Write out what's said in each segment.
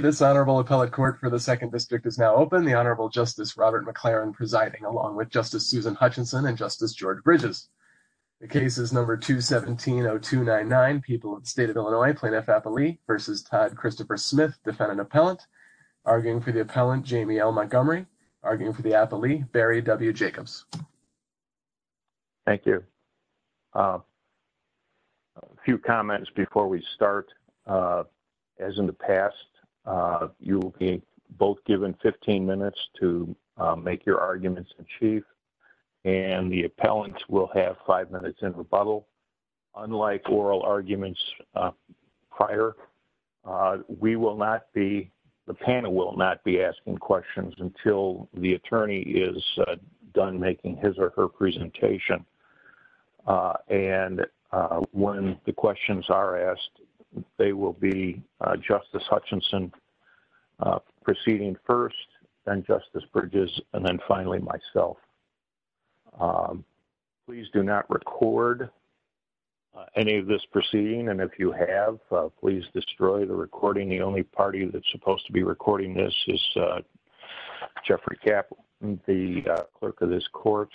This honorable appellate court for the second district is now open. The Honorable Justice Robert McLaren presiding along with Justice Susan Hutchinson and Justice George Bridges. The case is number 217-0299, People of the State of Illinois plaintiff-appellee v. Todd Christopher Smith, defendant-appellant, arguing for the appellant Jamie L. Montgomery, arguing for the appellee Barry W. Jacobs. Robert McLaren Thank you. A few comments before we start. As in the past, you will be both given 15 minutes to make your arguments in chief, and the appellant will have five minutes in rebuttal. Unlike oral arguments prior, we will not be, the panel will not be asking questions until the attorney is done making his or her presentation. And when the questions are asked, they will be Justice Hutchinson proceeding first, then Justice Bridges, and then finally myself. Please do not record any of this proceeding, and if you have, please destroy the recording. The only party that's supposed to be recording this is Jeffrey Kapp, the clerk of this court.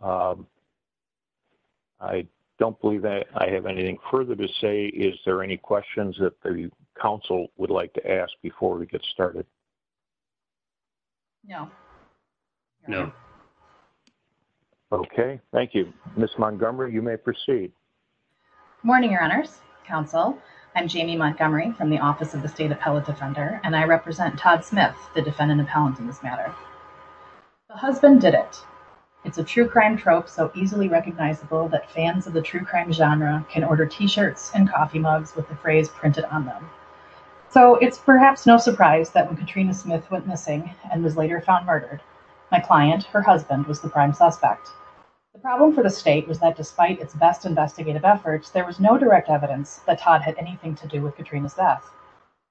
I don't believe that I have anything further to say. Is there any questions that the counsel would like to ask before we get started? No. No. Okay. Thank you. Ms. Montgomery, you may proceed. Morning, Your Honors. Counsel. I'm Jamie Montgomery from the Office of the State Appellate Defender, and I represent Todd Smith, the defendant of Howenton's matter. The husband did it. It's a true crime trope so easily recognizable that fans of the true crime genre can order t-shirts and coffee mugs with the phrase printed on them. So it's perhaps no surprise that when Katrina Smith went missing and was later found murdered, my client, her husband, was the prime suspect. The problem for the state was that despite its best investigative efforts, there was no direct evidence that Todd had anything to do with Katrina's death.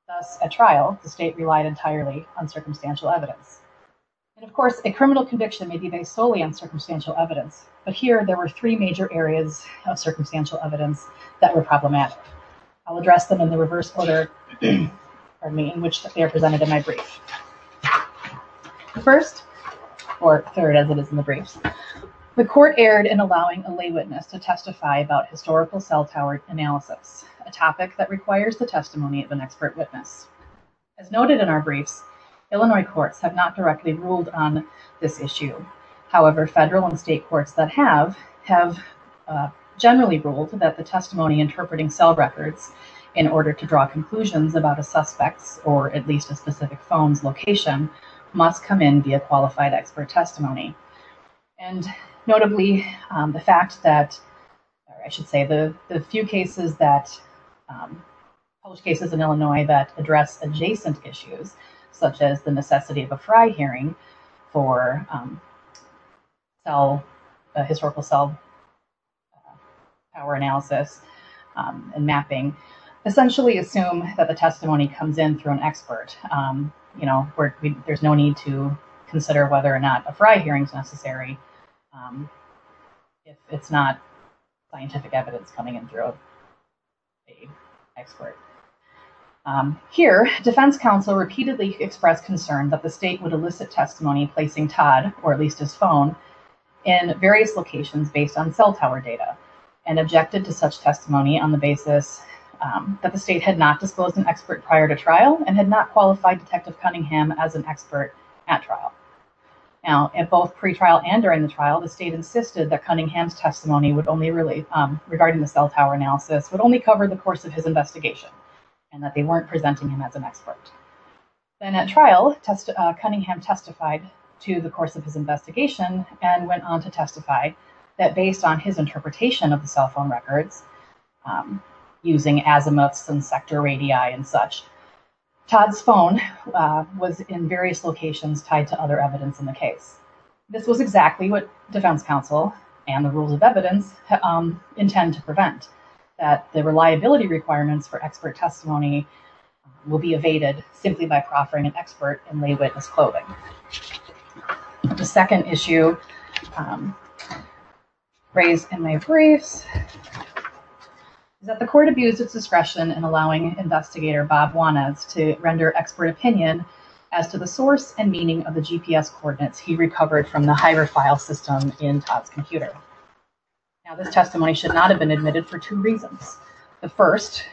Thus, at trial, the state relied entirely on circumstantial evidence. And of course, a criminal conviction may be based solely on circumstantial evidence, but here there were three major areas of circumstantial evidence that were problematic. I'll address them in the reverse order in which they are presented in my brief. The first, or third, as it is in the brief. The court erred in allowing a lay witness to testify about historical cell-powered analysis, a topic that requires the testimony of an expert witness. As noted in our brief, Illinois courts have not directly ruled on this issue. However, federal and state courts that have, have generally ruled that the testimony interpreting cell records in order to draw conclusions about a suspect or at least a specific phone location must come in via qualified expert testimony. And notably, the fact that, or I should say, the few cases that, those cases in Illinois that address adjacent issues, such as the necessity of a prior hearing for cell, historical cell-powered analysis and mapping, essentially assume that the testimony comes in through an expert. You know, where there's no need to consider whether or not a prior hearing is necessary if it's not scientific evidence coming in through an expert. Here, defense counsel repeatedly expressed concern that the state would elicit testimony placing Todd, or at least his phone, in various locations based on cell-powered data and objected to such testimony on the basis that the state had not disclosed an expert prior to trial and had not qualified Detective Cunningham as an expert at trial. Now, at both pre-trial and during the trial, the state insisted that Cunningham's testimony would only really, regarding the cell-powered analysis, would only cover the course of his investigation and that they weren't presenting him as an expert. Then at trial, Cunningham testified to the course of his investigation and went on to testify that based on his interpretation of the cell phone records, using azimuth and sector ADI and such, Todd's phone was in various locations tied to other evidence in the case. This was exactly what defense counsel and the rule of evidence intend to prevent, that the reliability requirements for expert testimony will be evaded simply by offering an expert and lay witness clothing. The second issue raised in my brief is that the court abused its discretion in allowing investigator Bob Juanez to render expert opinion as to the source and meaning of the GPS coordinates he recovered from the Hyder file system in Todd's computer. Now, this testimony should not have been admitted for two reasons. The first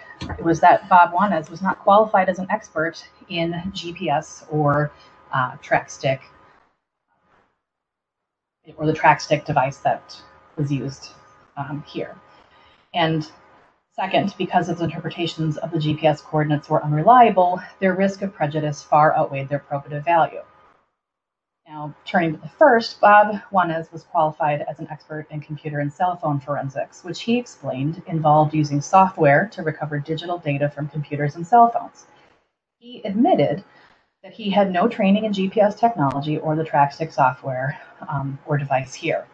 was that Bob Juanez was not qualified as an expert in GPS or track stick, or the track stick device that was used here. And second, because his interpretations of the GPS coordinates were unreliable, their risk of prejudice far outweighed their appropriate value. Now, turning to the first, Bob Juanez was qualified as an expert in computer and cell using software to recover digital data from computers and cell phones. He admitted that he had no training in GPS technology or the track stick software or device here.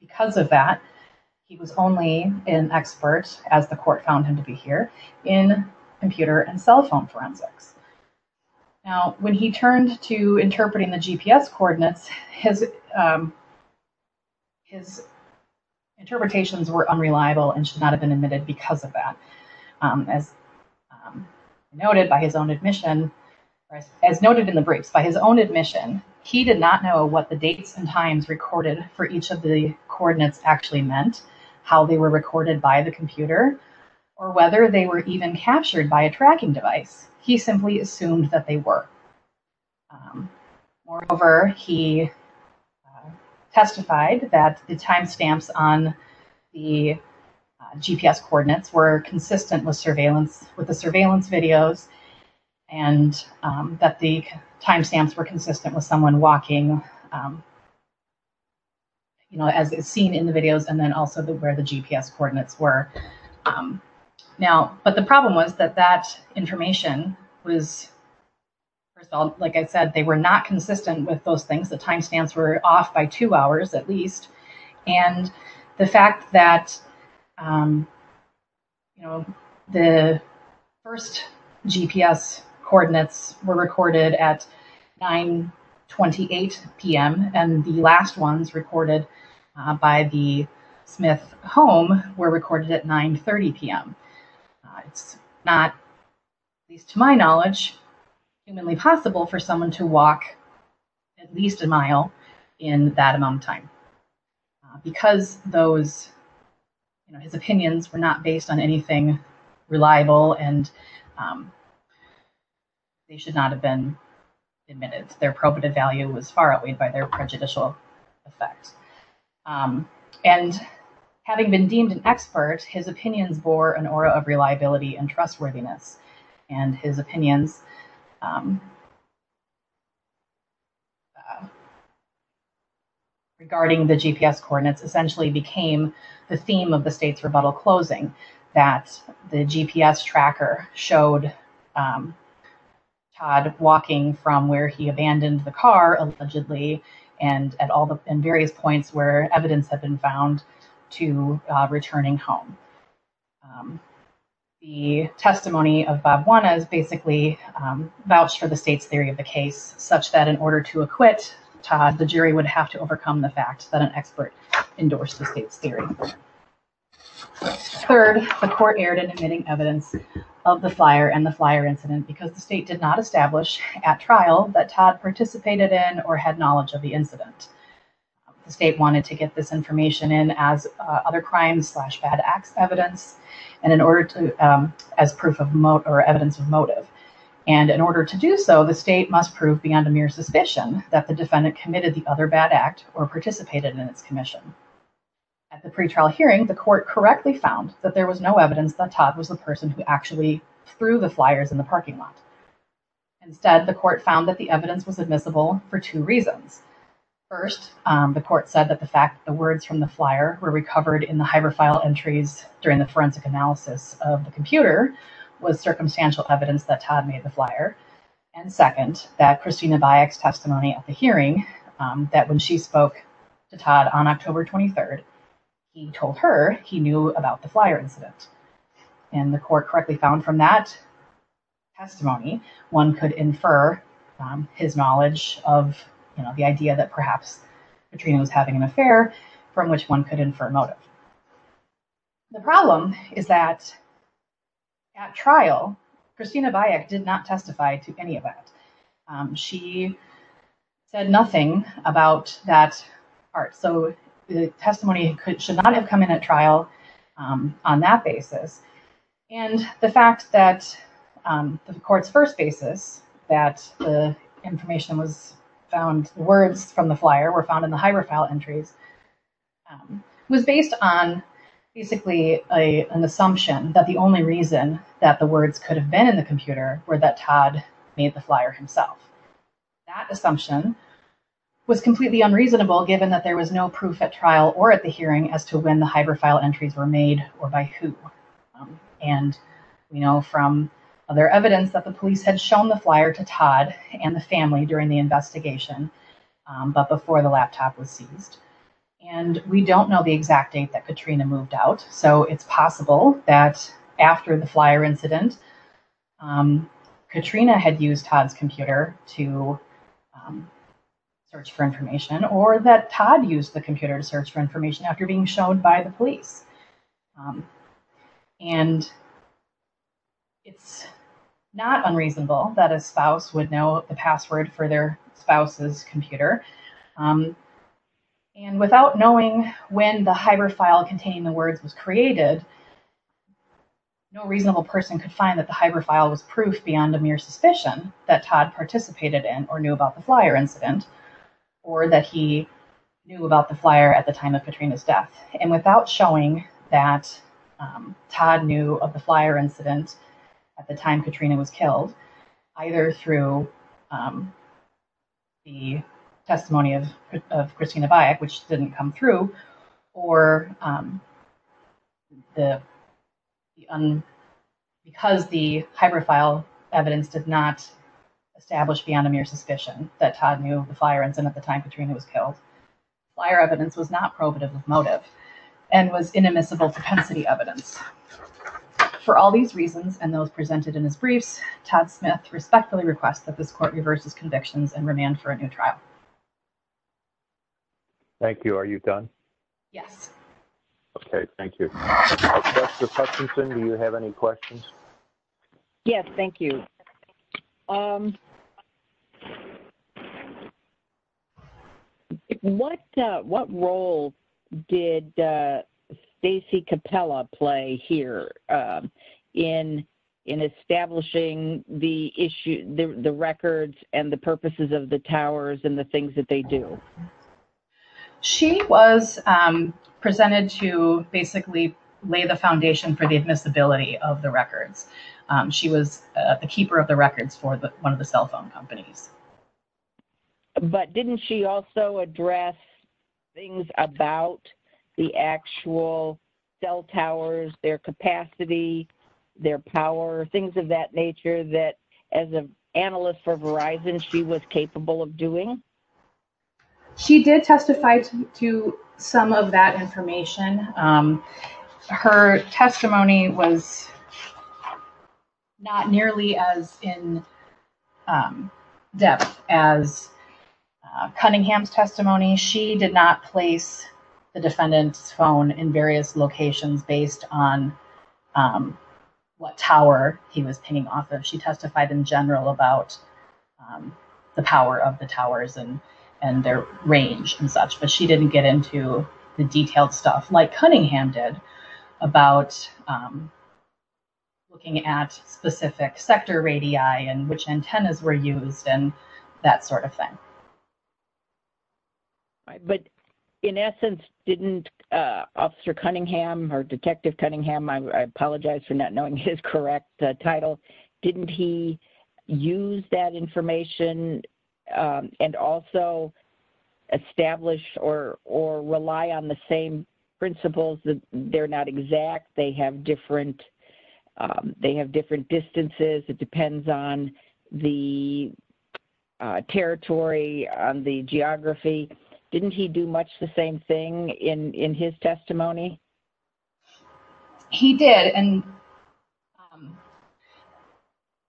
Because of that, he was only an expert, as the court found him to be here, in computer and cell phone forensics. Now, when he turned to interpreting the GPS coordinates, his interpretations were unreliable and should not have been admitted because of that. As noted in the brief, by his own admission, he did not know what the dates and times recorded for each of the coordinates actually meant, how they were recorded by the computer, or whether they were even captured by a tracking device. He simply assumed that they were. Moreover, he testified that the timestamps on the GPS coordinates were consistent with the surveillance videos and that the timestamps were consistent with someone walking as seen in the videos and then also where the GPS coordinates were. Now, but the problem was that that information was, like I said, they were not consistent with those things. The timestamps were off by two hours, at least. And the fact that the first GPS coordinates were recorded at 9.28 p.m. and the last ones recorded by the Smith home were recorded at 9.30 p.m. It's not, at least to my knowledge, humanly possible for someone to walk at least a mile in that amount of time because those, his opinions were not based on anything reliable and they should not have been admitted. Their probative value was far outweighed by their prejudicial effect. And having been deemed an expert, his opinion bore an aura of reliability and trustworthiness. And his opinion regarding the GPS coordinates essentially became the theme of the state's rebuttal closing, that the GPS tracker showed Todd walking from where he abandoned the car allegedly and various points where evidence had been found to returning home. The testimony of Bob Juanez basically vouched for the state's theory of the case such that in order to acquit Todd, the jury would have to overcome the fact that an expert endorsed the state's theory. Third, the court erred in admitting evidence of the flyer and the flyer incident because the state did not establish at trial that Todd participated in or had knowledge of the incident. The state wanted to get this information in as other crimes slash bad act evidence and in order to, as proof of motive or evidence of motive. And in order to do so, the state must prove beyond a mere suspicion that the defendant committed the other bad act or participated in its commission. At the pretrial hearing, the court correctly found that there was no evidence that Todd was the person who actually threw the flyers in the parking lot. Instead, the court found that the evidence was admissible for two reasons. First, the court said that the fact that the words from the flyer were recovered in the hyperfile entries during the forensic analysis of the computer was circumstantial evidence that Todd made the flyer. And second, that Christina Bayek's testimony at the hearing, that when she spoke to Todd on October 23rd, he told her he knew about the flyer incident. And the court correctly found from that testimony, one could infer his knowledge of the idea that perhaps Katrina was having an affair from which one could infer motive. The problem is that at trial, Christina Bayek did not testify to any of that. She said nothing about that part. So the testimony should not have come in at trial on that basis. And the fact that the court's first basis that the information was found, the words from the flyer were found in the hyperfile entries, was based on basically an assumption that the only reason that the words could have been in the computer were that Todd made the flyer himself. That assumption was completely unreasonable given that there was no proof at trial or at the hearing as to when the hyperfile entries were made or by who. And we know from other evidence that the police had shown the flyer to Todd and the family during the investigation but before the laptop was seized. And we don't know the exact date that Katrina moved out. So it's possible that after the flyer incident, Katrina had used Todd's computer to search for information or that Todd used the computer to search for information after being shown by the police. And it's not unreasonable that a spouse would know the password for their spouse's computer. And without knowing when the hyperfile containing the words was created, no reasonable person could find that the hyperfile was proof beyond a mere suspicion that Todd participated in or knew about the flyer incident or that he knew about the flyer at the time of Katrina's death. And without showing that Todd knew of the flyer incident at the time Katrina was killed, either through the testimony of Christina Byack, which didn't come through, or because the hyperfile evidence did not establish beyond a mere suspicion that Todd knew of the flyer incident at the time Katrina was killed, the flyer evidence was not probative as motive and was inimitable potency evidence. For all these reasons and those presented in this brief, Todd Smith respectfully requests that this court reverse his convictions and remand for a new trial. Thank you. Are you done? Yes. Okay. Thank you. Justice Hutchinson, do you have any questions? Yes. Thank you. What role did Stacey Capella play here in establishing the records and the purposes of the towers and the things that they do? She was presented to basically lay the foundation for the admissibility of the records. She was the keeper of the records for one of the cell phone companies. But didn't she also address things about the actual cell towers, their capacity, their power, things of that nature that as an analyst for Verizon she was capable of doing? She did testify to some of that information. Her testimony was not nearly as in-depth as Cunningham's testimony. She did not place the defendant's phone in various locations based on what tower he was hanging off of. She testified in general about the power of the towers and their range and such. But she didn't get into the detailed stuff like Cunningham did about looking at specific sector radii and which antennas were used and that sort of thing. But in essence, didn't Officer Cunningham or Detective Cunningham, I apologize for not knowing his correct title, didn't he use that information and also establish or rely on the same principles? They're not exact. They have different distances. It depends on the territory, on the geography. Didn't he do much the same thing in his testimony? He did. And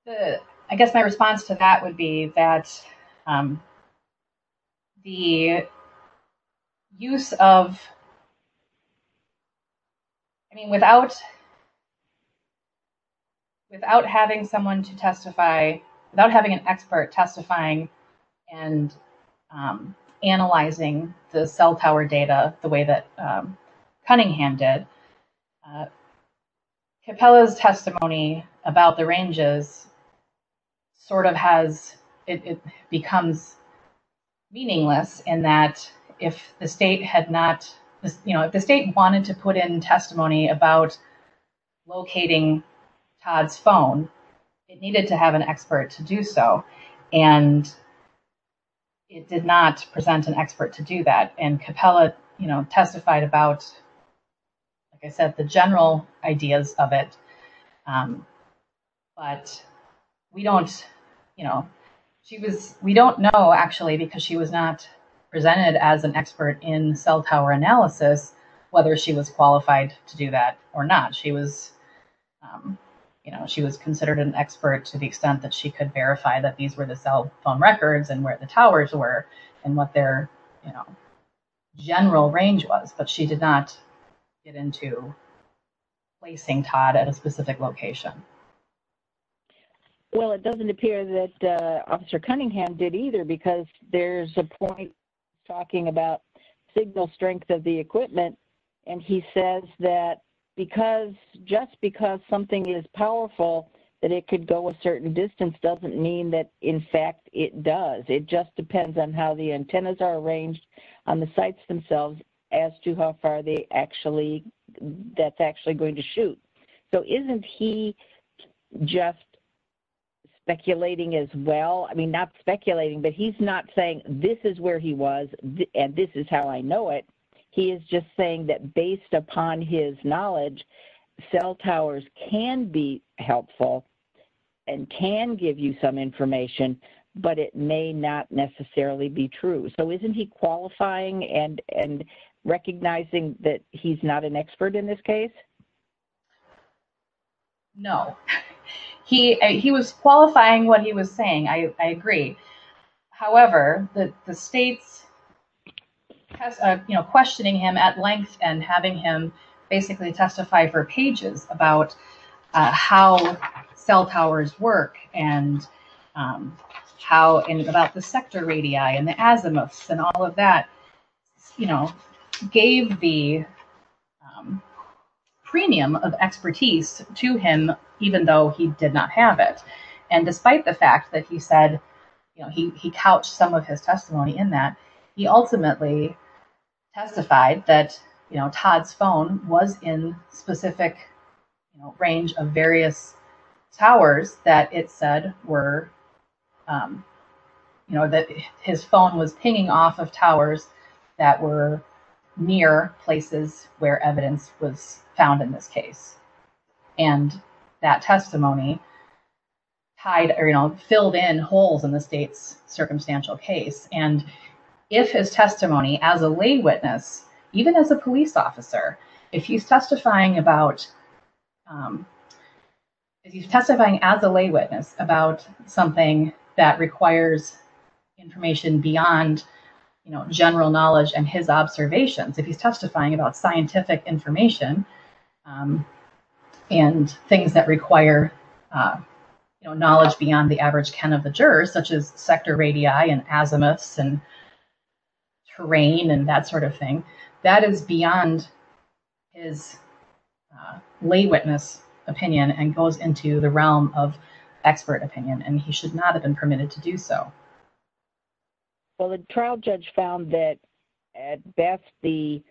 I guess my response to that would be that the use of, I mean, without having someone to testify, without having an expert testifying and analyzing the cell tower data the way that Cunningham did, Capella's testimony about the ranges sort of has, it becomes meaningless in that if the state had not, if the state wanted to put in testimony about locating Todd's phone, it needed to have an expert to do so. And it did not present an expert to do that. And Capella testified about, like I said, the general ideas of it. But we don't know, actually, because she was not presented as an expert in cell tower analysis, whether she was qualified to do that or not. She was considered an expert to the extent that she could verify that these were the cell phone records and where the towers were and what their general range was. But she did not get into placing Todd at a specific location. Well, it doesn't appear that Officer Cunningham did either, because there's a point talking about signal strength of the equipment. And he says that because, just because something is powerful, that it could go a certain distance doesn't mean that, in fact, it does. It just depends on how the antennas are arranged on the sites themselves as to how far they actually, that's actually going to shoot. So isn't he just speculating as well? I mean, not speculating, but he's not saying this is where he was and this is how I know it. He is just saying that based upon his knowledge, cell towers can be helpful and can give you some information, but it may not necessarily be true. So isn't he qualifying and recognizing that he's not an expert in this case? No. He was qualifying what he was saying. I agree. However, the state questioning him at length and having him basically testify for pages about how cell towers work and about the sector radii and the azimuths and all of that, gave the premium of expertise to him, even though he did not have it. And despite the fact that he said, he couched some of his testimony in that, he ultimately testified that Todd's phone was in specific range of various towers that it said were, that his phone was pinging off of towers that were near places where evidence was found in this case. And that testimony filled in holes in the state's circumstantial case. And if his testimony as a lay witness, even as a police officer, if he's testifying as a lay witness about something that requires information beyond general knowledge and his observations, if he's testifying about scientific information and things that require knowledge beyond the average ken of the jurors, such as sector radii and azimuths and terrain and that sort of thing, that is beyond his lay witness opinion and goes into the realm of expert opinion. And he should not have been permitted to do so. Well, the trial judge found that at best the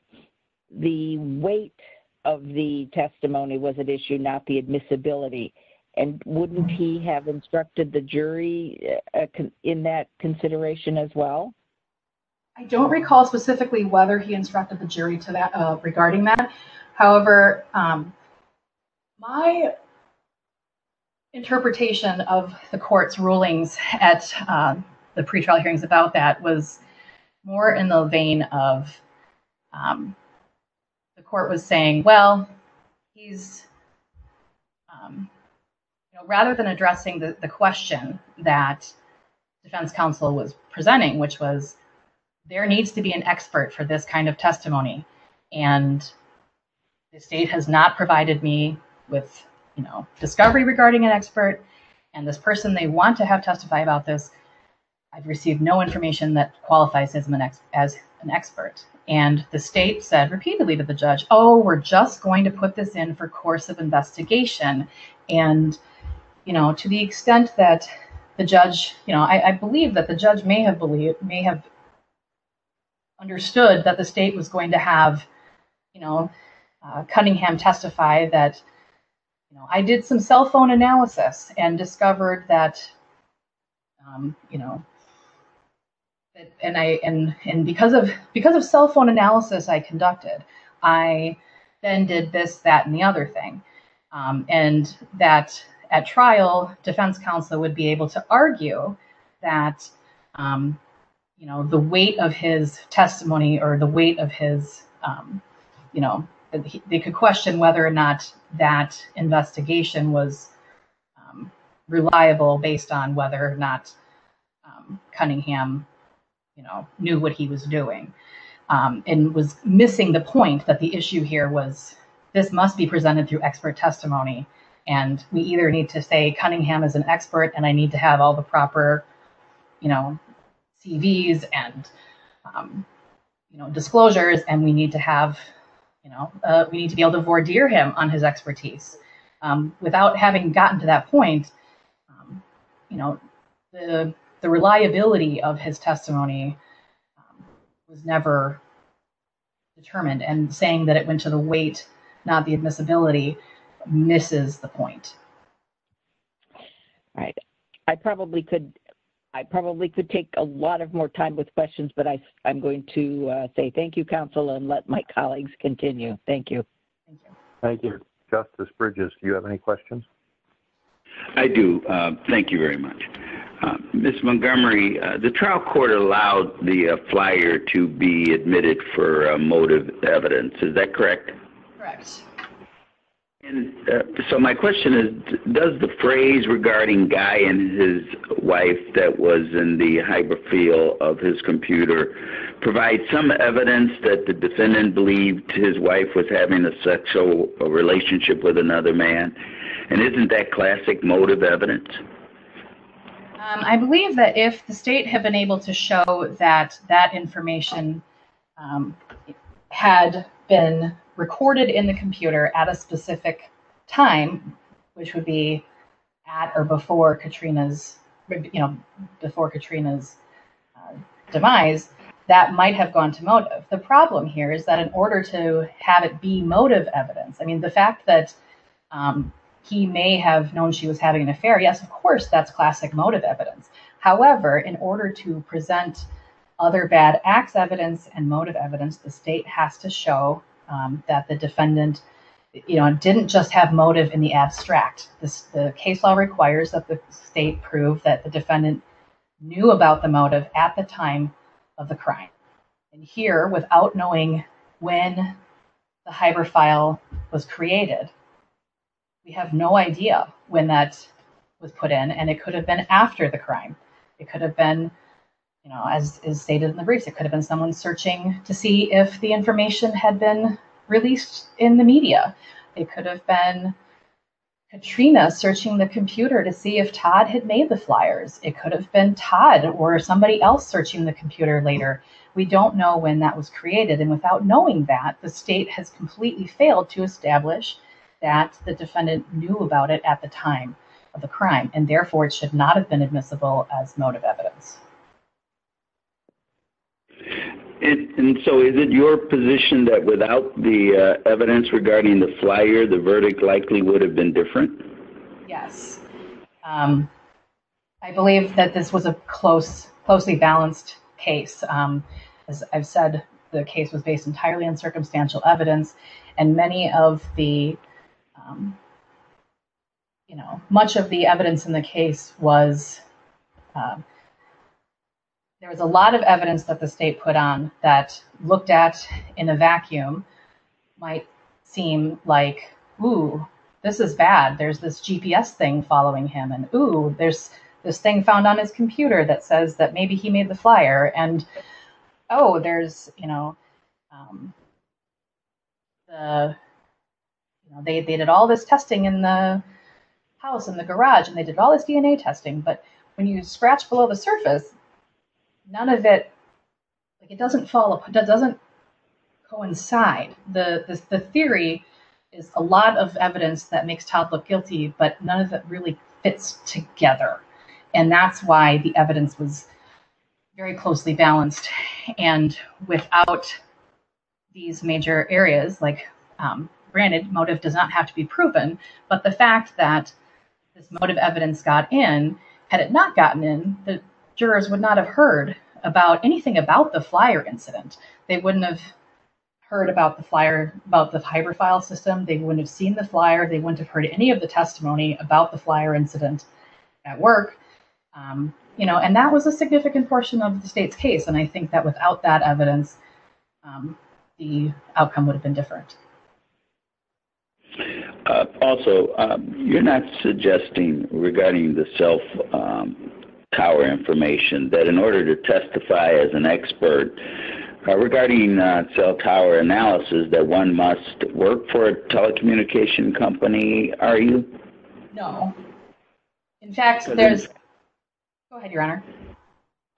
weight of the testimony was at issue, not the admissibility. And wouldn't he have instructed the jury in that consideration as well? I don't recall specifically whether he instructed the jury regarding that. However, my interpretation of the court's rulings at the pre-trial hearings about that was more in the vein of the court was saying, well, rather than addressing the question that defense counsel was presenting, which was there needs to be an expert for this kind of testimony and the state has not provided me with discovery regarding an expert and this person they want to have testify about this. I've received no information that qualifies as an expert. And the state said repeatedly to the judge, oh, we're just going to put this in for course of investigation. And, you know, to the extent that the judge, you know, understood that the state was going to have, you know, Cunningham testify that, you know, I did some cell phone analysis and discovered that, you know, and because of cell phone analysis I conducted, I then did this, that and the other thing. And that at trial defense counsel would be able to argue that, you know, the weight of his testimony or the weight of his, you know, they could question whether or not that investigation was reliable based on whether or not Cunningham, you know, knew what he was doing and was missing the point that the issue here was this must be presented through expert testimony. And we either need to say Cunningham is an expert and I need to have all the proper, you know, TVs and, you know, disclosures and we need to have, you know, we need to be able to voir dire him on his expertise. Without having gotten to that point, you know, the reliability of his testimony was never determined and saying that it went to the weight, not the admissibility, misses the point. All right. I probably could take a lot more time with questions, but I'm going to say thank you, counsel, and let my colleagues continue. Thank you. Thank you. Justice Bridges, do you have any questions? I do. Thank you very much. Ms. Montgomery, the trial court allowed the flyer to be admitted for motive evidence. Is that correct? Correct. So my question is, does the phrase regarding Guy and his wife that was in the hydrophile of his computer provide some evidence that the defendant believed his wife was having a sexual relationship with another man? And isn't that classic motive evidence? I believe that if the state had been able to show that that information had been recorded in the computer at a specific time, which would be at or before Katrina's, you know, before Katrina's demise, that might have gone to motive. The problem here is that in order to have it be motive evidence, I mean, the fact that he may have known she was having an affair, yes, of course, that's classic motive evidence. However, in order to present other bad acts evidence and motive evidence, the state has to show that the defendant didn't just have motive in the abstract. The case law requires that the state prove that the defendant knew about the motive at the time of the crime. Here, without knowing when the hydrophile was created, we have no idea when that was put in, and it could have been after the crime. It could have been, you know, as stated in the brief, it could have been someone searching to see if the information had been released in the media. It could have been Katrina searching the computer to see if Todd had made the flyers. It could have been Todd or somebody else searching the computer later. We don't know when that was created, and without knowing that, the state has completely failed to establish that the defendant knew about it at the time of the crime, and therefore, it should not have been admissible as motive evidence. And so, is it your position that without the evidence regarding the flyer, the verdict likely would have been different? Yes. I believe that this was a closely balanced case. As I've said, the case was based entirely on circumstantial evidence, and many of the, you know, much of the evidence in the case was, there was a lot of evidence that the state put on that looked at in a vacuum, might seem like, ooh, this is bad, there's this GPS thing following him, and ooh, there's this thing found on his computer that says that maybe he made the flyer, and oh, there's, you know, they did all this testing in the house, in the garage, and they did all this DNA testing, but when you scratch below the surface, none of it, it doesn't coincide. The theory is a lot of evidence that makes Todd look guilty, but none of it really fits together, and that's why the evidence was very closely balanced, and without these major areas, like, granted, motive does not have to be proven, but the fact that this motive evidence got in, had it not gotten in, the jurors would not have heard about anything about the flyer incident. They wouldn't have heard about the flyer, about the hyperfile system. They wouldn't have seen the flyer. They wouldn't have heard any of the testimony about the flyer incident at work, you know, and that was a significant portion of the state's case, and I think that without that evidence, the outcome would have been different. Also, you're not suggesting, regarding the cell tower information, that in order to testify as an expert, regarding cell tower analysis, that one must work for a telecommunication company, are you? No. In fact, there's... Go ahead, Your Honor.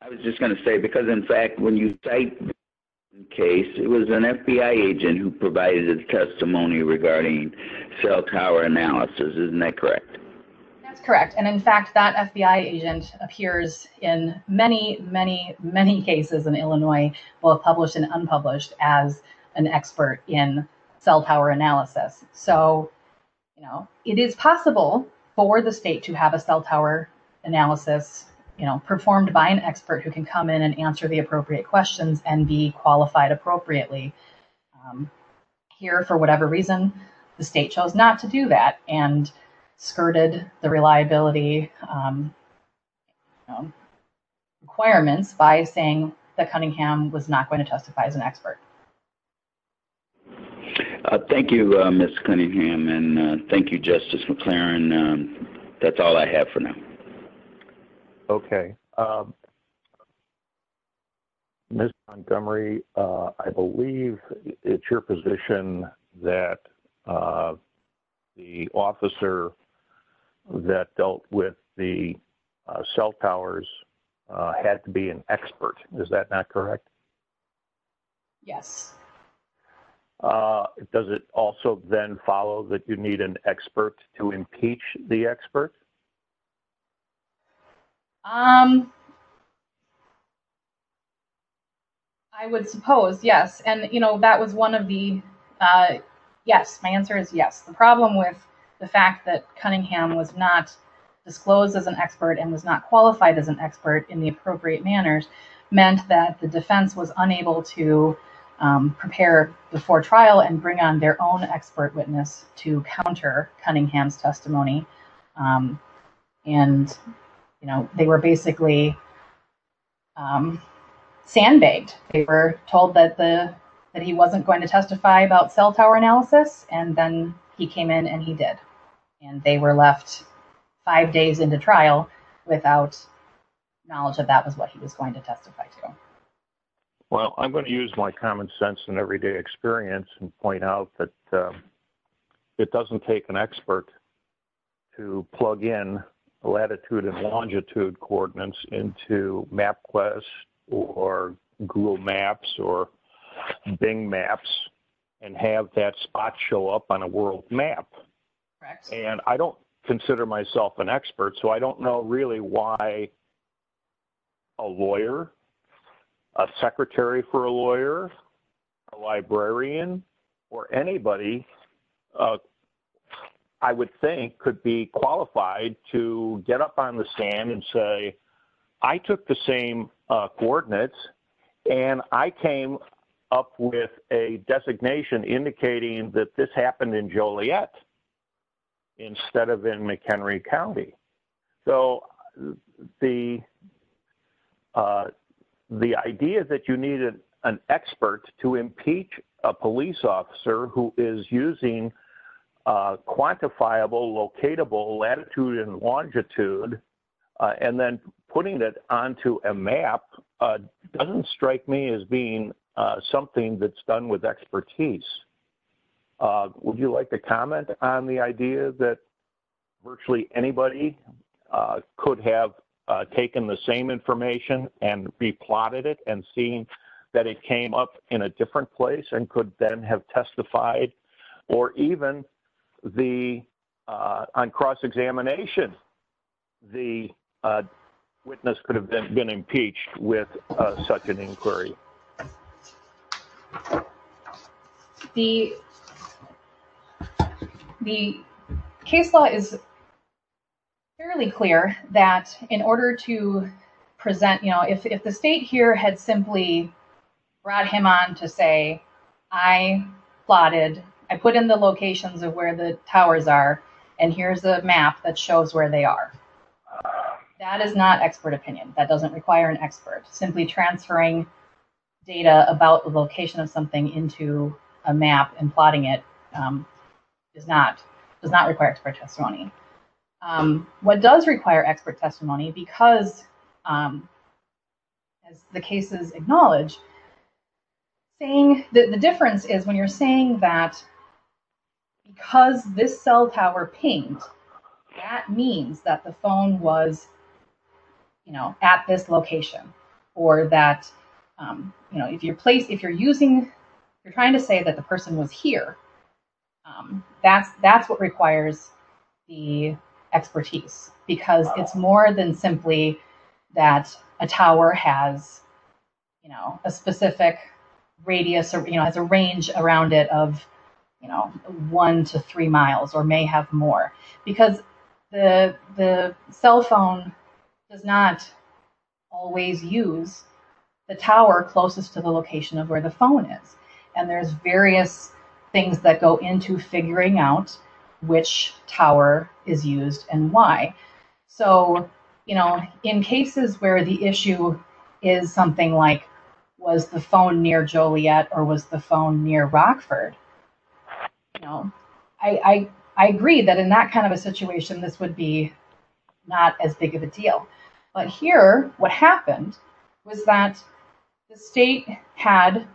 I was just going to say, because, in fact, when you cite this case, it was an FBI agent who provided the testimony regarding cell tower analysis. Isn't that correct? That's correct, and, in fact, that FBI agent appears in many, many, many cases in Illinois, both published and unpublished, as an expert in cell tower analysis. So, you know, it is possible for the state to have a cell tower analysis, you know, performed by an expert who can come in and answer the appropriate questions and be qualified appropriately. Here, for whatever reason, the state chose not to do that and skirted the reliability requirements by saying that Cunningham was not going to testify as an expert. Thank you, Ms. Cunningham, and thank you, Justice McClaren. That's all I have for now. Okay. Ms. Montgomery, I believe it's your position that the officer that dealt with the cell towers had to be an expert. Is that not correct? Yes. Does it also then follow that you need an expert to impeach the expert? I would suppose, yes, and, you know, that was one of the, yes, my answer is yes. The problem with the fact that Cunningham was not disclosed as an expert and was not qualified as an expert in the appropriate manners meant that the defense was unable to prepare before trial and bring on their own expert witness to counter Cunningham's testimony. And, you know, they were basically sandbagged. They were told that he wasn't going to testify about cell tower analysis, and then he came in and he did. And they were left five days into trial without knowledge that that was what he was going to testify to. Well, I'm going to use my common sense and everyday experience and point out that it doesn't take an expert to plug in latitude and longitude coordinates into MapQuest or Google Maps or Bing Maps and have that spot show up on a world map. And I don't consider myself an expert, so I don't know really why a lawyer, a secretary for a lawyer, a librarian, or anybody, I would think, could be qualified to get up on the stand and say, I took the same coordinates and I came up with a designation indicating that this happened in Joliet instead of in McHenry County. So the idea that you needed an expert to impeach a police officer who is using quantifiable, locatable latitude and longitude and then putting it onto a map doesn't strike me as being something that's done with expertise. Would you like to comment on the idea that virtually anybody could have taken the same information and be plotted it and seen that it came up in a different place and could then have testified or even on cross-examination the witness could have been impeached with a second inquiry? The case law is fairly clear that in order to present, you know, if the state here had simply brought him on to say, I plotted, I put in the locations of where the towers are and here's the map that shows where they are, that is not expert opinion. That doesn't require an expert. Simply transferring data about the location of something into a map and plotting it does not require expert testimony. What does require expert testimony, because the case is acknowledged, the difference is when you're saying that because this cell tower pinged, that means that the phone was, you know, at this location or that, you know, if you're using, you're trying to say that the person was here, that's what requires the expertise because it's more than simply that a tower has, you know, a specific radius or, you know, has a range around it of, you know, one to three miles or may have more because the cell phone does not always use the tower closest to the location of where the phone is and there's various things that go into figuring out which tower is used and why. So, you know, in cases where the issue is something like, was the phone near Joliet or was the phone near Rockford, you know, I agree that in that kind of a situation, this would be not as big of a deal. But here, what happened was that the state had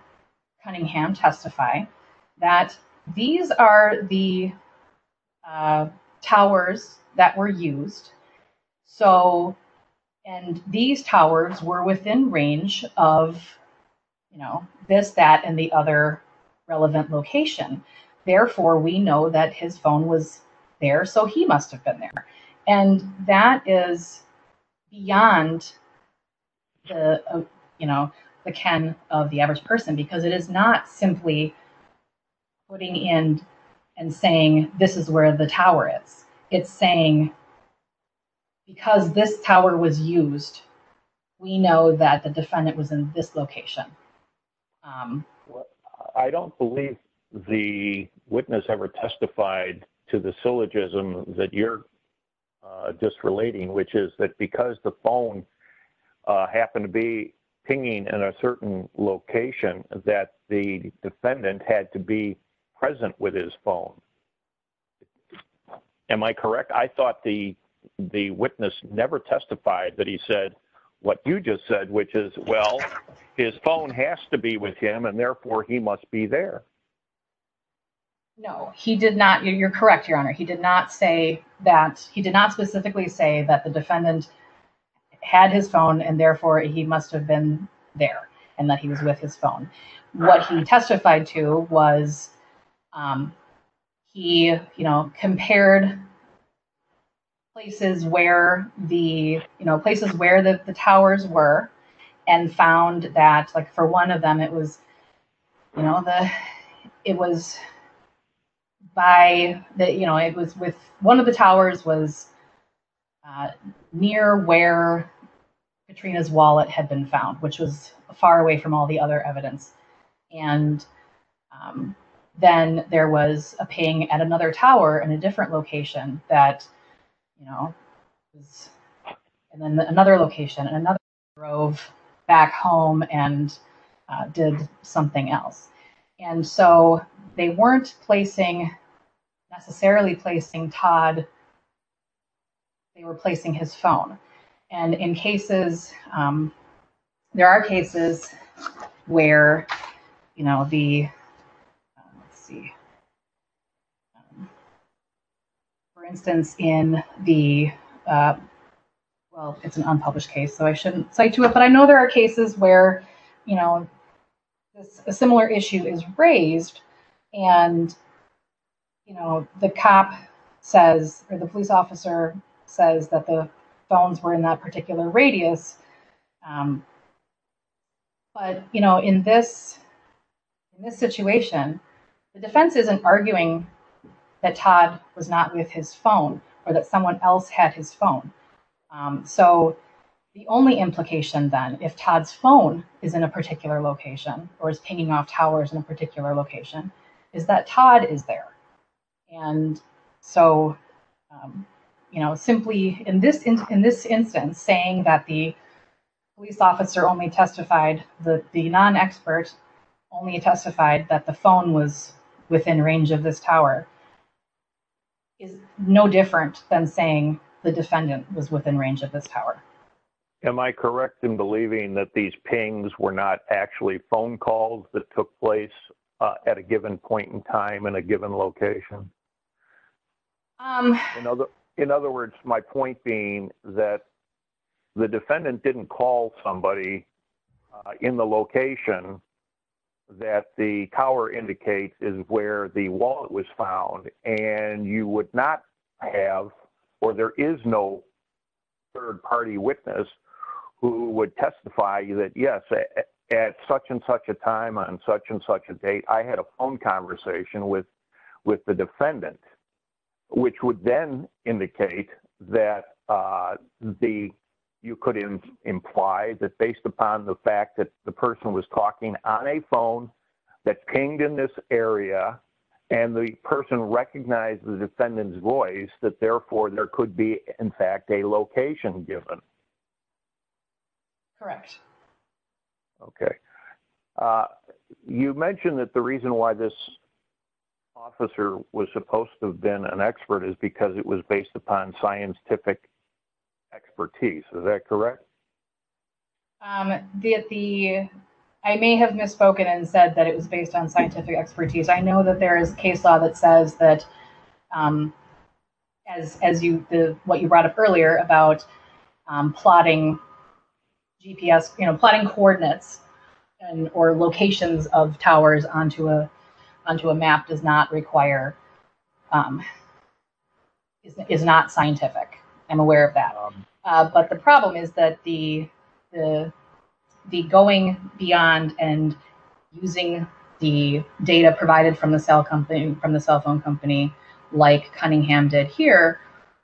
Cunningham testify that these are the towers that were used, so, and these towers were within range of, you know, this, that, and the other relevant location. Therefore, we know that his phone was there, so he must have been there. And that is beyond, you know, the chance of the average person because it is not simply putting in and saying this is where the tower is. It's saying because this tower was used, we know that the defendant was in this location. I don't believe the witness ever testified to the syllogism that you're just relating, which is that because the phone happened to be pinging in a certain location that the defendant had to be present with his phone. Am I correct? I thought the witness never testified that he said what you just said, which is, well, his phone has to be with him, and therefore he must be there. No, he did not. You're correct, Your Honor. He did not say that, he did not specifically say that the defendant had his phone and therefore he must have been there and that he was with his phone. What he testified to was he, you know, compared places where the, where the towers were and found that, like, for one of them it was, you know, it was by, you know, one of the towers was near where Katrina's wallet had been found, which was far away from all the other evidence. And then there was a ping at another tower in a different location that, you know, and then another location, and another location drove back home and did something else. And so they weren't placing, necessarily placing Todd, they were placing his phone. And in cases, there are cases where, you know, the, let's see, for instance, in the, well, it's an unpublished case, so I shouldn't cite you, but I know there are cases where, you know, a similar issue is raised and, you know, the cop says, or the police officer says that the phones were in that particular radius. But, you know, in this situation, the defense isn't arguing that Todd was not with his phone or that someone else had his phone. So the only implication then, if Todd's phone is in a particular location or is pinging off towers in a particular location, is that Todd is there. And so, you know, simply in this instance, saying that the police officer only testified, the non-expert only testified that the phone was within range of this tower, is no different than saying the defendant was within range of this tower. Am I correct in believing that these pings were not actually phone calls that took place at a given point in time in a given location? In other words, my point being that the defendant didn't call somebody in the location that the tower indicates is where the wallet was found, and you would not have, or there is no third-party witness who would testify that, yes, at such and such a time on such and such a date, I had a phone conversation with the defendant, which would then indicate that the, you could imply that based upon the fact that the person was talking on a phone that pinged in this area and the person recognized the defendant's voice, that therefore there could be, in fact, a location given. Correct. Okay. You mentioned that the reason why this officer was supposed to have been an expert is because it was based upon scientific expertise. Is that correct? The, I may have misspoken and said that it was based on scientific expertise. I know that there is case law that says that, as you, what you brought up earlier about plotting GPS, you know, plotting coordinates or locations of towers onto a map does not require, is not scientific. I'm aware of that. But the problem is that the going beyond and using the data provided from the cell company, from the cell phone company like Cunningham did here,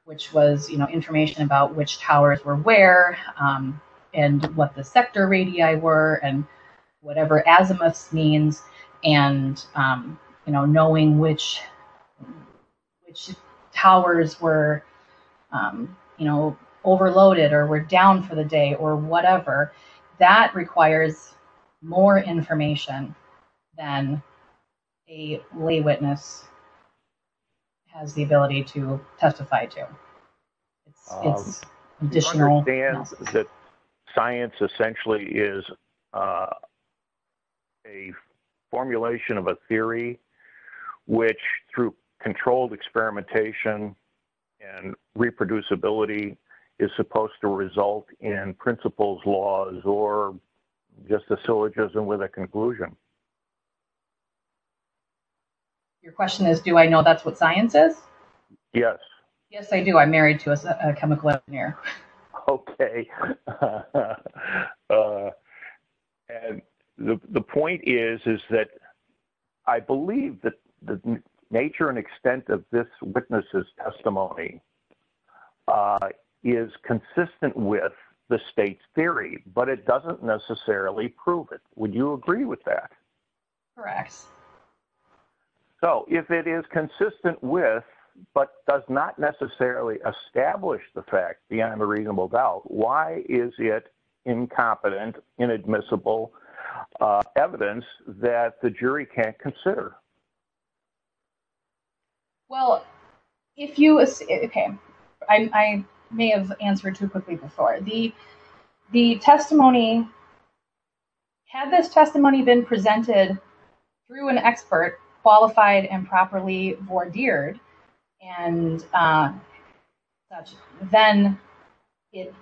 which was, you know, information about which towers were where and what the sector radii were and whatever azimuth means and, you know, knowing which towers were, you know, overloaded or were down for the day or whatever, that requires more information than a lay witness has the ability to testify to. I understand that science essentially is a formulation of a theory which through controlled experimentation and reproducibility is supposed to result in principles, laws, or just a syllogism with a conclusion. Your question is, do I know that's what science is? Yes. Yes, I do. I'm married to a chemical engineer. Okay. The point is, is that I believe that the nature and extent of this witness's testimony is consistent with the state's theory, but it doesn't necessarily prove it. Would you agree with that? Correct. So if it is consistent with, but does not necessarily establish the fact beyond a reasonable doubt, why is it incompetent, inadmissible evidence that the jury can't consider? Well, if you, okay, I may have answered too quickly before. The testimony, has this testimony been presented through an expert, qualified and properly vordered, and such, then it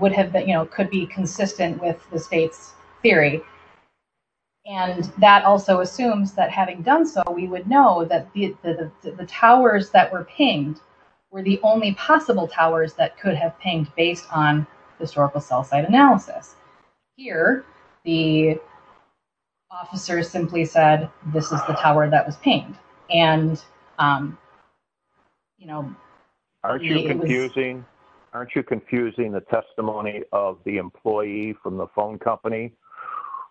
would have been, you know, could be consistent with the state's theory. And that also assumes that having done so, we would know that the towers that were pinged were the only possible towers that could have pinged based on historical cell site analysis. Here, the officer simply said, this is the tower that was pinged. Aren't you confusing the testimony of the employee from the phone company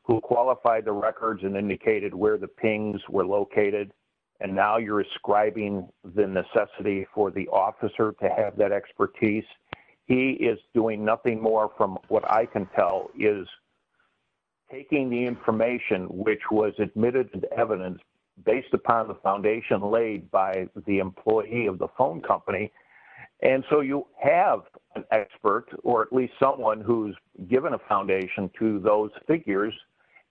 who qualified the records and indicated where the pings were located? And now you're ascribing the necessity for the officer to have that expertise. He is doing nothing more from what I can tell is taking the information, which was admitted to the evidence based upon the foundation laid by the employee of the phone company. And so you have an expert, or at least someone who's given a foundation to those figures.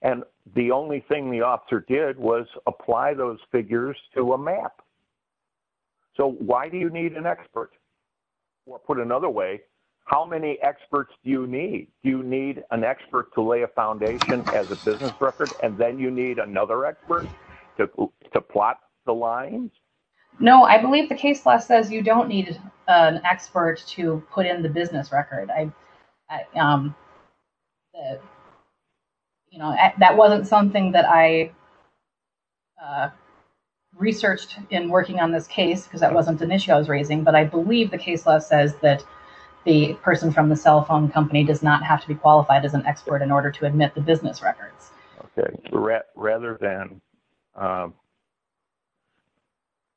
And the only thing the officer did was apply those figures to a map. So why do you need an expert? Or put another way, how many experts do you need? Do you need an expert to lay a foundation as a business record, and then you need another expert to plot the lines? No, I believe the case law says you don't need an expert to put in the business record. That wasn't something that I researched in working on the case, because that wasn't an issue I was raising. But I believe the case law says that the person from the cell phone company does not have to be qualified as an expert in order to admit the business record. Rather than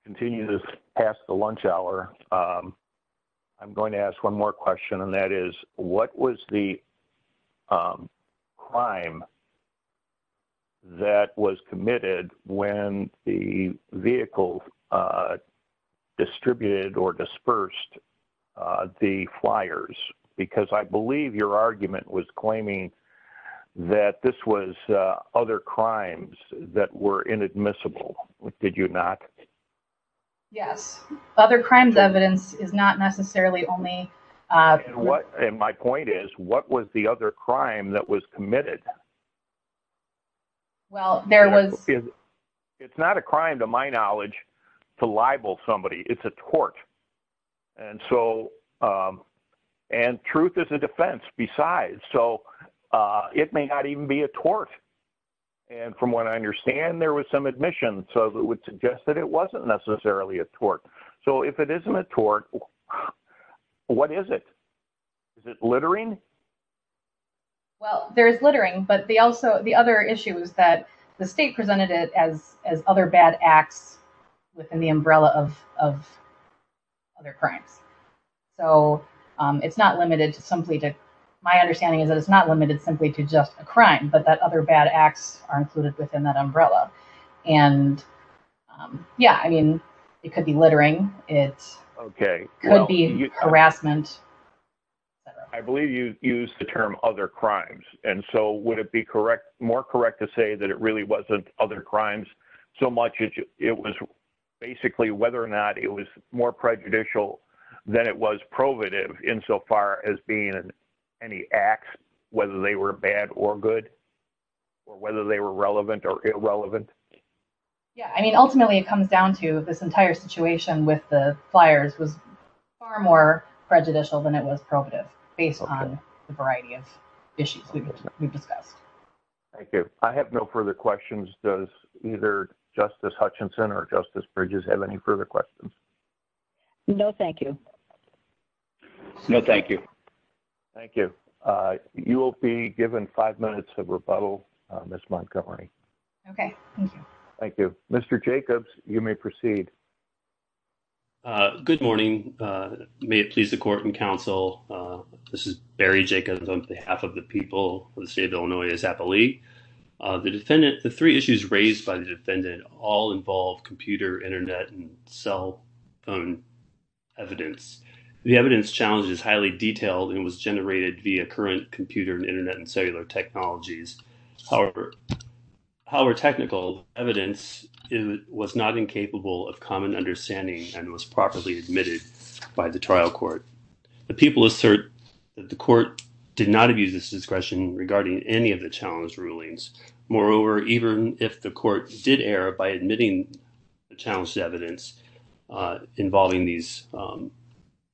continue this past the lunch hour, I'm going to ask one more question, and that is what was the crime that was committed when the vehicle distributed or dispersed the flyers? Because I believe your argument was claiming that this was other crimes that were inadmissible. Did you not? Yes. Other crimes evidence is not necessarily only... And my point is, what was the other crime that was committed? Well, there was... It's not a crime to my knowledge to libel somebody. It's a tort. And truth is a defense besides, so it may not even be a tort. And from what I understand, there was some admission, so it would suggest that it wasn't necessarily a tort. So if it isn't a tort, what is it? Is it littering? Well, there's littering, but the other issue is that the state presented it as other bad acts within the umbrella of other crimes. So it's not limited simply to... My understanding is that it's not limited simply to just a crime, but that other bad acts are included within that umbrella. And yeah, I mean, it could be littering. It could be harassment. I believe you used the term other crimes. And so would it be more correct to say that it really wasn't other crimes so much as it was basically whether or not it was more prejudicial than it was provative insofar as being any acts, whether they were bad or good, or whether they were relevant or irrelevant? Yeah, I mean, ultimately it comes down to this entire situation with the flyers was far more prejudicial than it was provative based on the variety of issues we discussed. Thank you. I have no further questions. Does either Justice Hutchinson or Justice Bridges have any further questions? No, thank you. No, thank you. Thank you. You will be given five minutes of rebuttal, Ms. Montgomery. Okay, thank you. Thank you. Mr. Jacobs, you may proceed. Good morning. May it please the court and counsel, this is Barry Jacobs on behalf of the people of the state of Illinois as appellee. The defendant, the three issues raised by the defendant all involve computer, Internet and cell evidence. The evidence challenge is highly detailed and was generated via current computer and Internet and cellular technologies. However, however, technical evidence was not incapable of common understanding and was properly admitted by the trial court. The people assert that the court did not abuse its discretion regarding any of the challenge rulings. Moreover, even if the court did err by admitting the challenged evidence involving these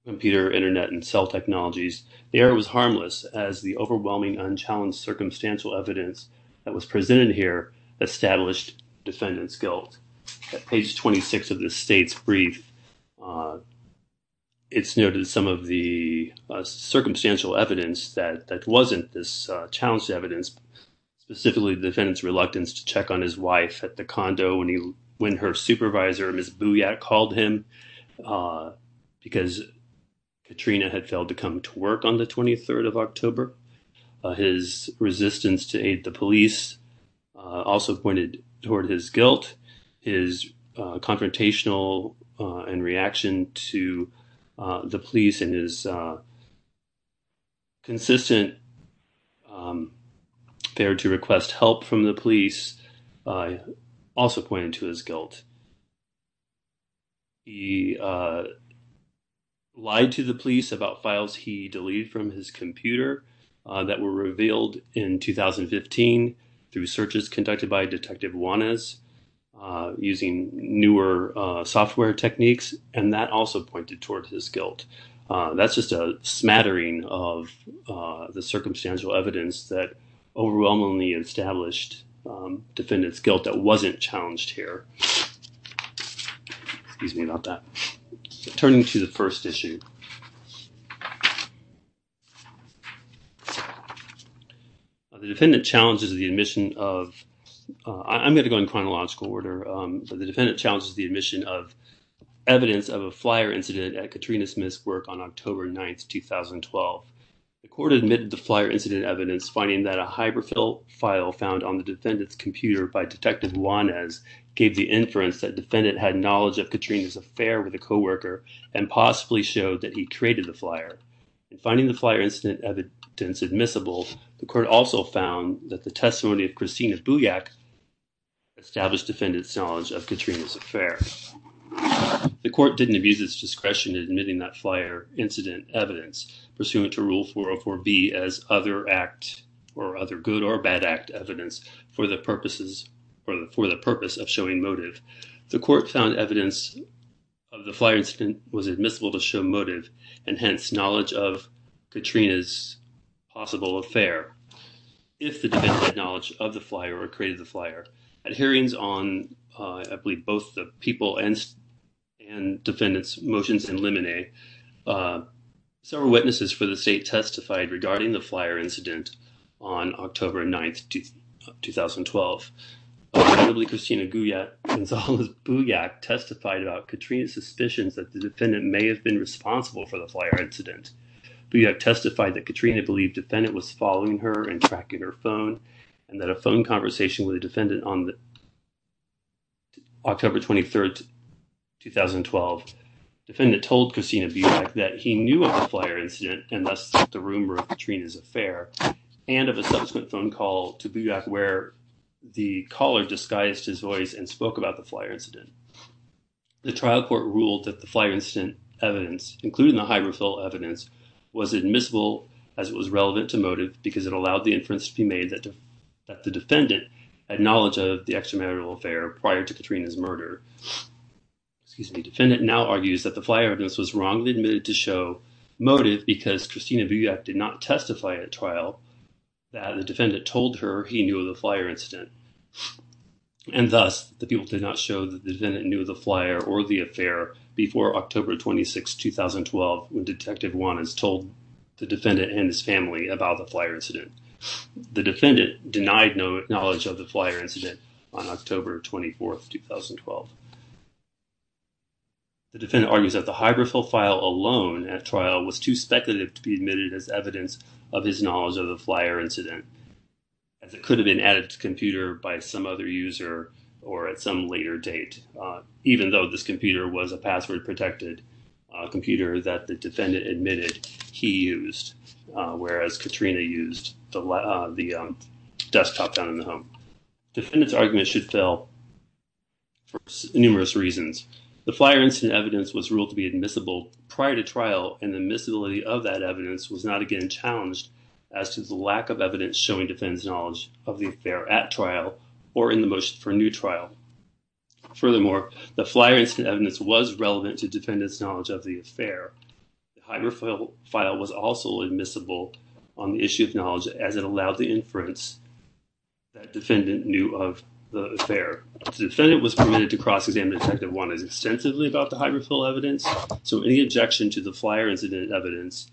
computer, Internet and cell technologies, the error was harmless as the overwhelming unchallenged circumstantial evidence that was presented here established defendant's guilt. At page 26 of the state brief, it's noted some of the circumstantial evidence that wasn't this challenged evidence, specifically defendant's reluctance to check on his wife at the condo when her supervisor, Ms. Booyak, called him because Katrina had failed to come to work on the 23rd of October. His resistance to aid the police also pointed toward his guilt. His confrontational and reaction to the police and his consistent failure to request help from the police also pointed to his guilt. He lied to the police about files he deleted from his computer that were revealed in 2015 through searches conducted by Detective Juanez using newer software techniques, and that also pointed towards his guilt. That's just a smattering of the circumstantial evidence that overwhelmingly established defendant's guilt that wasn't challenged here. Excuse me about that. Turning to the first issue. The defendant challenges the admission of... I'm going to go in chronological order. The defendant challenges the admission of evidence of a flyer incident at Katrina Smith's work on October 9, 2012. The court admitted the flyer incident evidence finding that a hyperfill file found on the defendant's computer by Detective Juanez gave the inference that the defendant had knowledge of Katrina's affair with a co-worker and possibly showed that he traded the flyer. In finding the flyer incident evidence admissible, the court also found that the testimony of Christina Booyak established defendant's knowledge of Katrina's affair. The court didn't abuse its discretion in admitting that flyer incident evidence, pursuant to Rule 404B, as other good or bad act evidence for the purpose of showing motive. The court found evidence of the flyer incident was admissible to show motive, and hence, knowledge of Katrina's possible affair, if the defendant had knowledge of the flyer or traded the flyer. At hearings on, I believe, both the people and defendant's motions and lemonade, several witnesses for the state testified regarding the flyer incident on October 9, 2012. Presumably, Christina Booyak testified about Katrina's suspicion that the defendant may have been responsible for the flyer incident. Booyak testified that Katrina believed the defendant was following her and tracking her phone and that a phone conversation with a defendant on October 23, 2012, the defendant told Christina Booyak that he knew of the flyer incident and thus the rumor of Katrina's affair and of a subsequent phone call to Booyak where the caller disguised his voice and spoke about the flyer incident. The trial court ruled that the flyer incident evidence, including the high-result evidence, was admissible as it was relevant to motive because it allowed the inference to be made that the defendant had knowledge of the extramarital affair prior to Katrina's murder. The defendant now argues that the flyer evidence was wrongly admitted to show motive because Christina Booyak did not testify at trial that the defendant told her he knew of the flyer incident. And thus, the people did not show that the defendant knew of the flyer or the affair before October 26, 2012, when Detective Wannans told the defendant and his family about the flyer incident. The defendant denied knowledge of the flyer incident on October 24, 2012. The defendant argues that the hydrophile file alone at trial was too speculative to be admitted as evidence of his knowledge of the flyer incident. It could have been added to the computer by some other user or at some later date, even though this computer was a password-protected computer that the defendant admitted he used, whereas Katrina used the desktop down in the home. The defendant's argument should fail for numerous reasons. The flyer incident evidence was ruled to be admissible prior to trial, and the admissibility of that evidence was not again challenged as to the lack of evidence showing defendant's knowledge of the affair at trial or in the motion for new trial. Furthermore, the flyer incident evidence was relevant to defendant's knowledge of the affair. The hydrophile file was also admissible on the issue of knowledge as it allowed the inference that defendant knew of the affair. The defendant was permitted to cross-examine Detective Wannans extensively about the hydrophile evidence, so any objection to the flyer incident evidence,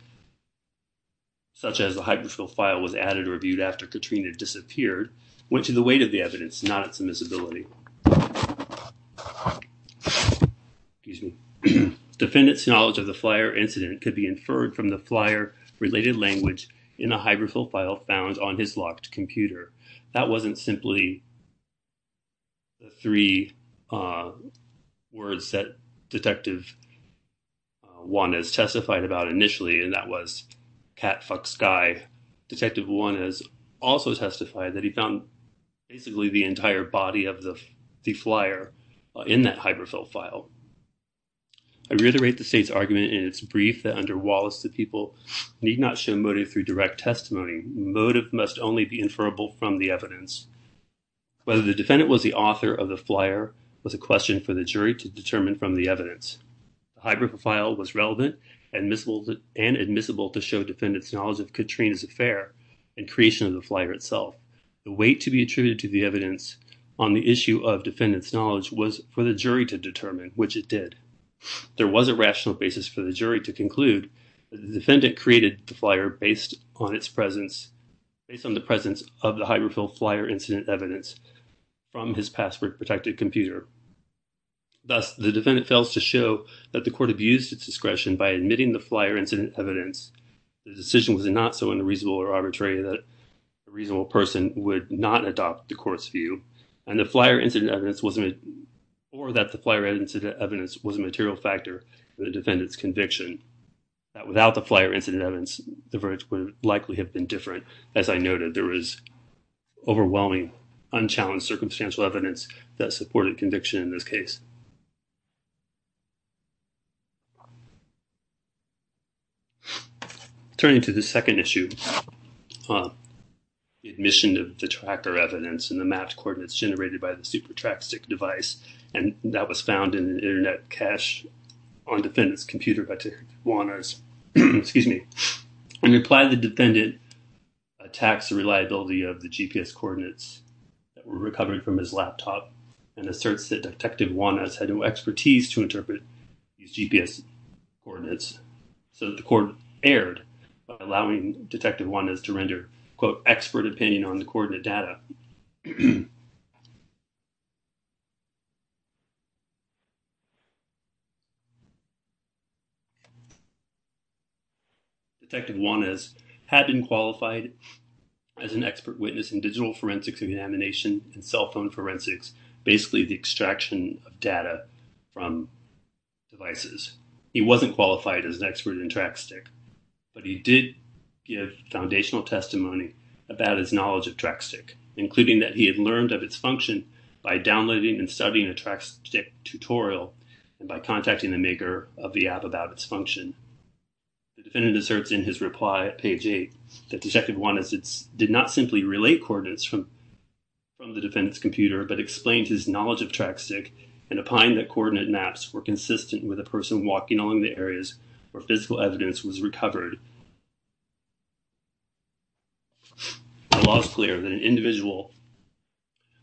such as the hydrophile file was added or viewed after Katrina disappeared, went to the weight of the evidence, not its admissibility. The defendant's knowledge of the flyer incident could be inferred from the flyer-related language in the hydrophile file found on his locked computer. That wasn't simply the three words that Detective Wannans testified about initially, and that was, cat fucks guy. Detective Wannans also testified that he found basically the entire body of the flyer in that hydrophile file. I reiterate the state's argument in its brief that under Wallace, that people need not show motive through direct testimony. Motive must only be inferrable from the evidence. Whether the defendant was the author of the flyer was a question for the jury to determine from the evidence. The hydrophile file was relevant and admissible to show defendant's knowledge of Katrina's affair and creation of the flyer itself. The weight to be attributed to the evidence on the issue of defendant's knowledge was for the jury to determine, which it did. There was a rational basis for the jury to conclude that the defendant created the flyer based on the presence of the hydrophile flyer incident evidence from his password-protected computer. Thus, the defendant fails to show that the court abused its discretion by admitting the flyer incident evidence. The decision was not so unreasonable or arbitrary that a reasonable person would not adopt the court's view, or that the flyer incident evidence was a material factor in the defendant's conviction. Without the flyer incident evidence, the verdict would likely have been different. As I noted, there was overwhelming, unchallenged circumstantial evidence that supported conviction in this case. Turning to the second issue, admission of detractor evidence in the match coordinates generated by the SuperTRAC-6 device, and that was found in an Internet cache on defendant's computer by Tijuana's. Excuse me. In reply, the defendant attacks the reliability of the GPS coordinates that were recovered from his laptop and asserts that Detective Juana's had no expertise to interpret these GPS coordinates, so the court erred by allowing Detective Juana to render, quote, Detective Juana's had been qualified as an expert witness in digital forensics examination and cell phone forensics, basically the extraction of data from devices. He wasn't qualified as an expert in TRAC-STIC, but he did give foundational testimony about his knowledge of TRAC-STIC, including that he had learned of its function by downloading and studying a TRAC-STIC tutorial and by contacting the maker of the app about its function. The defendant asserts in his reply at page 8 that Detective Juana did not simply relate coordinates from the defendant's computer, but explained his knowledge of TRAC-STIC and opined that coordinate maps were consistent with a person walking along the areas where physical evidence was recovered. The law is clear that an individual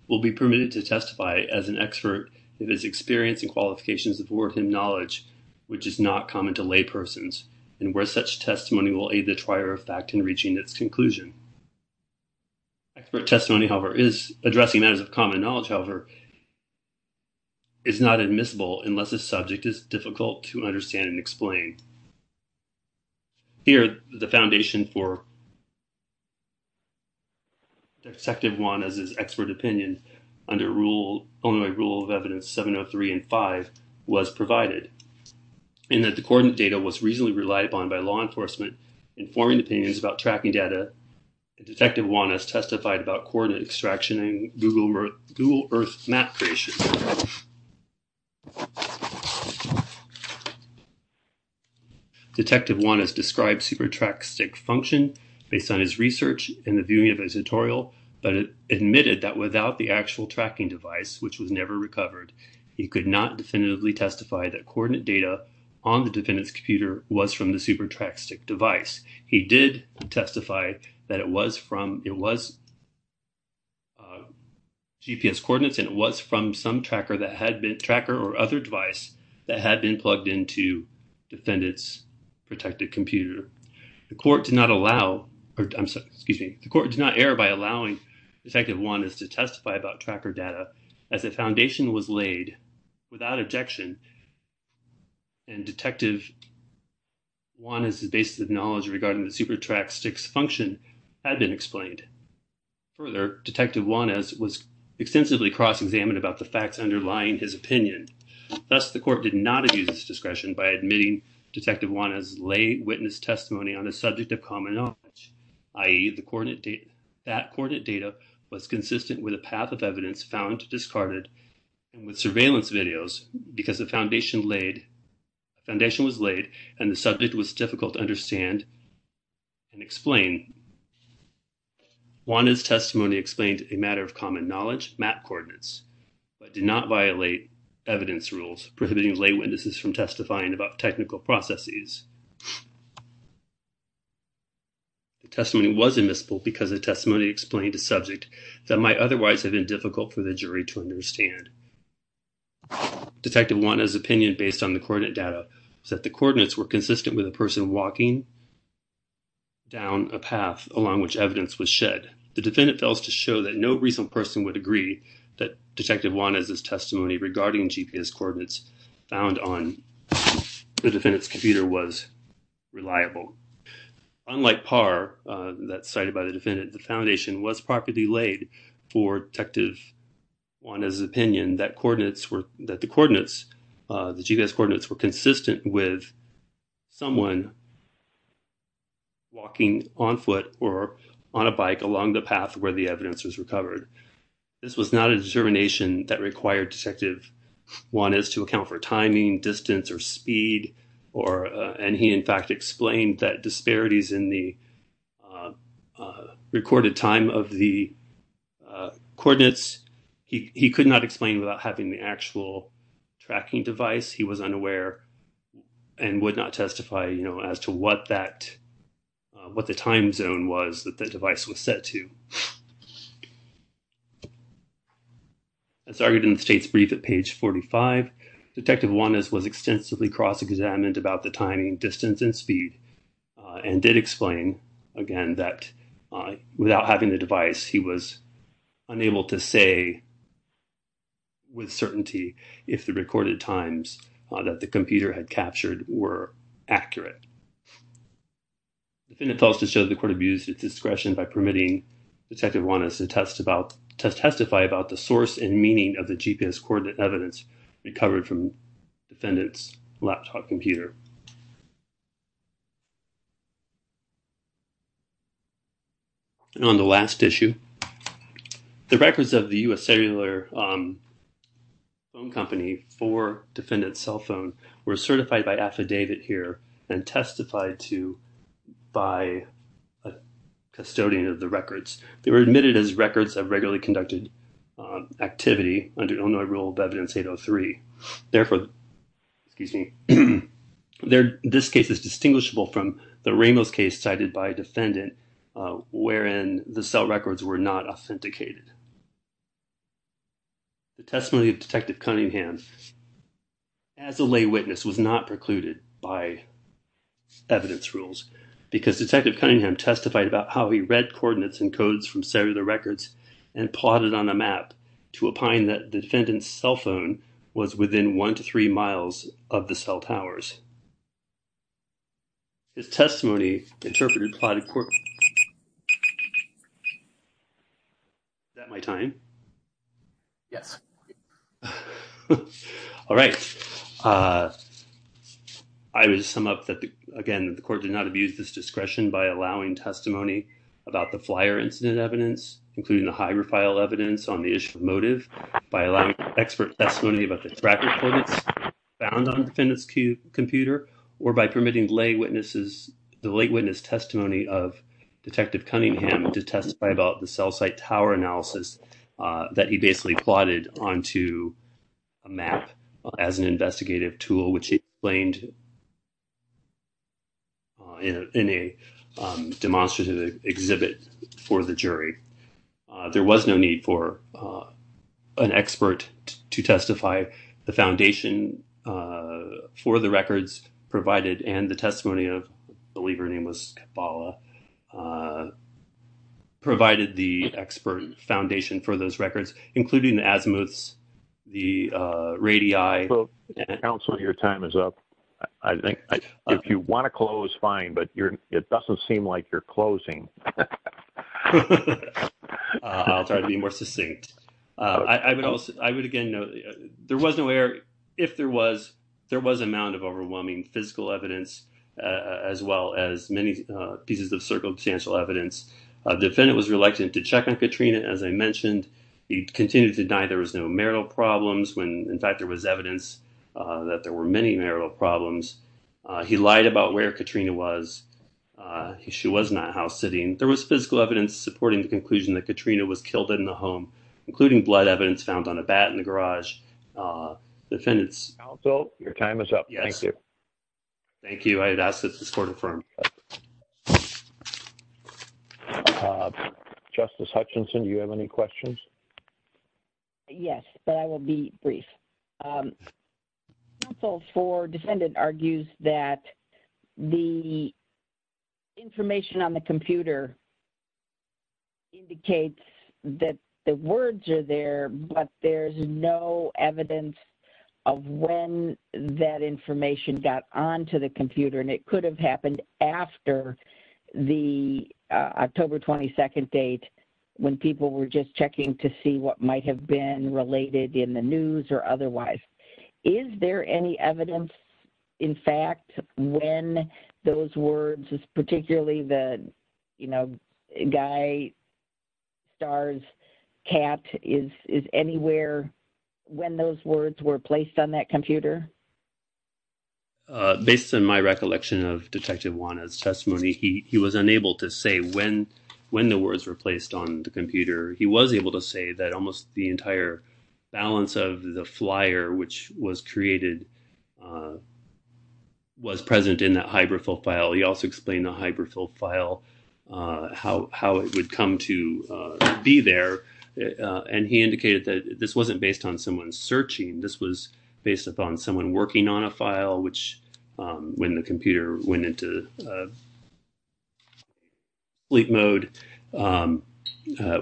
will be permitted to testify as an expert if his experience and qualifications are worthy of knowledge, which is not common to laypersons, and where such testimony will aid the trier of fact in reaching its conclusion. Expert testimony, however, is addressing matters of common knowledge, however, is not admissible unless the subject is difficult to understand and explain. Here, the foundation for Detective Juana's expert opinion under only Rule of Evidence 703 and 5 was provided, and that the coordinate data was reasonably reliable by law enforcement informing opinions about TRAC-STIC data. Detective Juana has testified about coordinate extraction and Google Earth map creation. Detective Juana has described SuperTRAC-STIC's function based on his research and the viewing of his tutorial, but admitted that without the actual tracking device, which was never recovered, he could not definitively testify that coordinate data on the defendant's computer was from the SuperTRAC-STIC device. He did testify that it was GPS coordinates and it was from some tracker or other device that had been plugged into the defendant's protected computer. The court did not allow, excuse me, the court did not err by allowing Detective Juana to testify about tracker data as the foundation was laid without objection and Detective Juana's basis of knowledge regarding the SuperTRAC-STIC's function had been explained. Further, Detective Juana was extensively cross-examined about the facts underlying his opinion. Thus, the court did not abuse this discretion by admitting Detective Juana's lay witness testimony on a subject of common knowledge, i.e., that coordinate data was consistent with a path of evidence found discarded with surveillance videos because the foundation was laid and the subject was difficult to understand and explain. Juana's testimony explained a matter of common knowledge, map coordinates, but did not violate evidence rules prohibiting lay witnesses from testifying about technical processes. The testimony was admissible because the testimony explained a subject that might otherwise have been difficult for the jury to understand. Detective Juana's opinion based on the coordinate data was that the coordinates were consistent with a person walking down a path along which evidence was shed. The defendant felt to show that no reasonable person would agree that Detective Juana's testimony regarding GPS coordinates found on the defendant's computer was reliable. Unlike Parr, that cited by the defendant, the foundation was properly laid for Detective Juana's opinion that the GPS coordinates were consistent with someone walking on foot or on a bike along the path where the evidence was recovered. This was not a determination that required Detective Juana's to account for timing, distance, or speed, and he in fact explained that disparities in the recorded time of the coordinates, he could not explain without having the actual tracking device. He was unaware and would not testify as to what the time zone was that the device was set to. As argued in the state's brief at page 45, Detective Juana's was extensively cross-examined about the timing, distance, and speed and did explain, again, that without having the device, he was unable to say with certainty if the recorded times that the computer had captured were accurate. The defendant felt to show the court abused its discretion by permitting Detective Juana's to testify about the source and meaning of the GPS coordinate evidence recovered from the defendant's laptop computer. And on the last issue, the records of the U.S. cellular phone company for defendant's cell phone were certified by affidavit here and testified to by a custodian of the records. They were admitted as records of activity under Illinois Rule of Evidence 803. Therefore, this case is distinguishable from the Ramos case cited by defendant wherein the cell records were not authenticated. The testimony of Detective Cunningham as a lay witness was not precluded by evidence rules about how he read coordinates and codes from cellular records and plotted on a map to opine that defendant's cell phone was within one to three miles of the cell towers. The testimony interpreted by the court... Is that my time? Yeah. All right. I would just sum up that, again, the court did not abuse its discretion by allowing testimony about the flyer incident evidence, including the Hager file evidence on the issue of motive, by allowing expert testimony about the track record found on defendant's computer, or by permitting the lay witness testimony of Detective Cunningham to testify about the cell site tower analysis that he basically plotted onto a map as an investigative tool, which he explained in a demonstrative exhibit for the jury. There was no need for an expert to testify. The foundation for the records provided and the testimony of, I believe her name was Bala, provided the expert foundation for those records, including the azimuths, the radii... Your time is up. If you want to close, fine, but it doesn't seem like you're closing. I'll try to be more succinct. I would, again, there was no error. If there was, there was an amount of overwhelming physical evidence, as well as many pieces of circumstantial evidence. The defendant was reluctant to check on Katrina, as I mentioned. He continued to deny there was no marital problems when, in fact, there was evidence that there were any marital problems. He lied about where Katrina was. She was not house-sitting. There was physical evidence supporting the conclusion that Katrina was killed in the home, including blood evidence found on a bat in the garage. Defendants... Counsel, your time is up. Thank you. Thank you. I'd ask that this court affirm. Justice Hutchinson, do you have any questions? Yes, but I will be brief. Counsel for defendant argues that the information on the computer indicates that the words are there, but there's no evidence of when that information got onto the computer, and it could have happened after the October 22nd date, when people were just checking to see what might have been related in the news or otherwise. Is there any evidence, in fact, when those words, particularly the, you know, guy, stars, cat, is anywhere when those words were placed on that computer? Based on my recollection of Detective Juana's testimony, he was unable to say when the words were placed on the computer. He was able to say that almost the entire balance of the flyer, which was created, was present in that hybrid profile. He also explained the hybrid profile, how it would come to be there, and he indicated that this wasn't based on someone searching. This was based upon someone working on a file, which, when the computer went into sleep mode,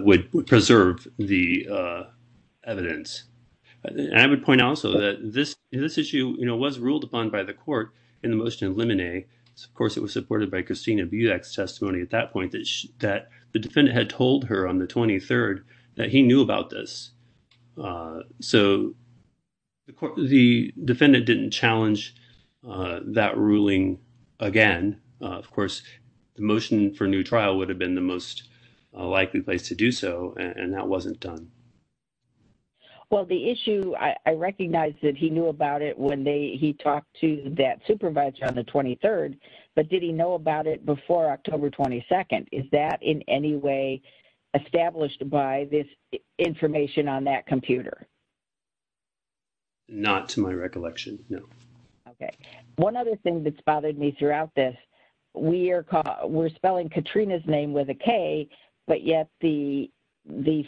would preserve the evidence. I would point out, also, that this issue was ruled upon by the court in the motion of limine. Of course, it was supported by Christina Budak's testimony at that point, that the defendant had told her on the 23rd that he knew about this. So, the defendant didn't challenge that ruling again. Of course, the motion for a new trial would have been the most likely place to do so, and that wasn't done. Well, the issue, I recognize that he knew about it when he talked to that supervisor on the 23rd, but did he know about it before October 22nd? Is that in any way established by this information on that computer? Not to my recollection, no. Okay. One other thing that's bothered me throughout this, we're spelling Katrina's name with a K, but yet the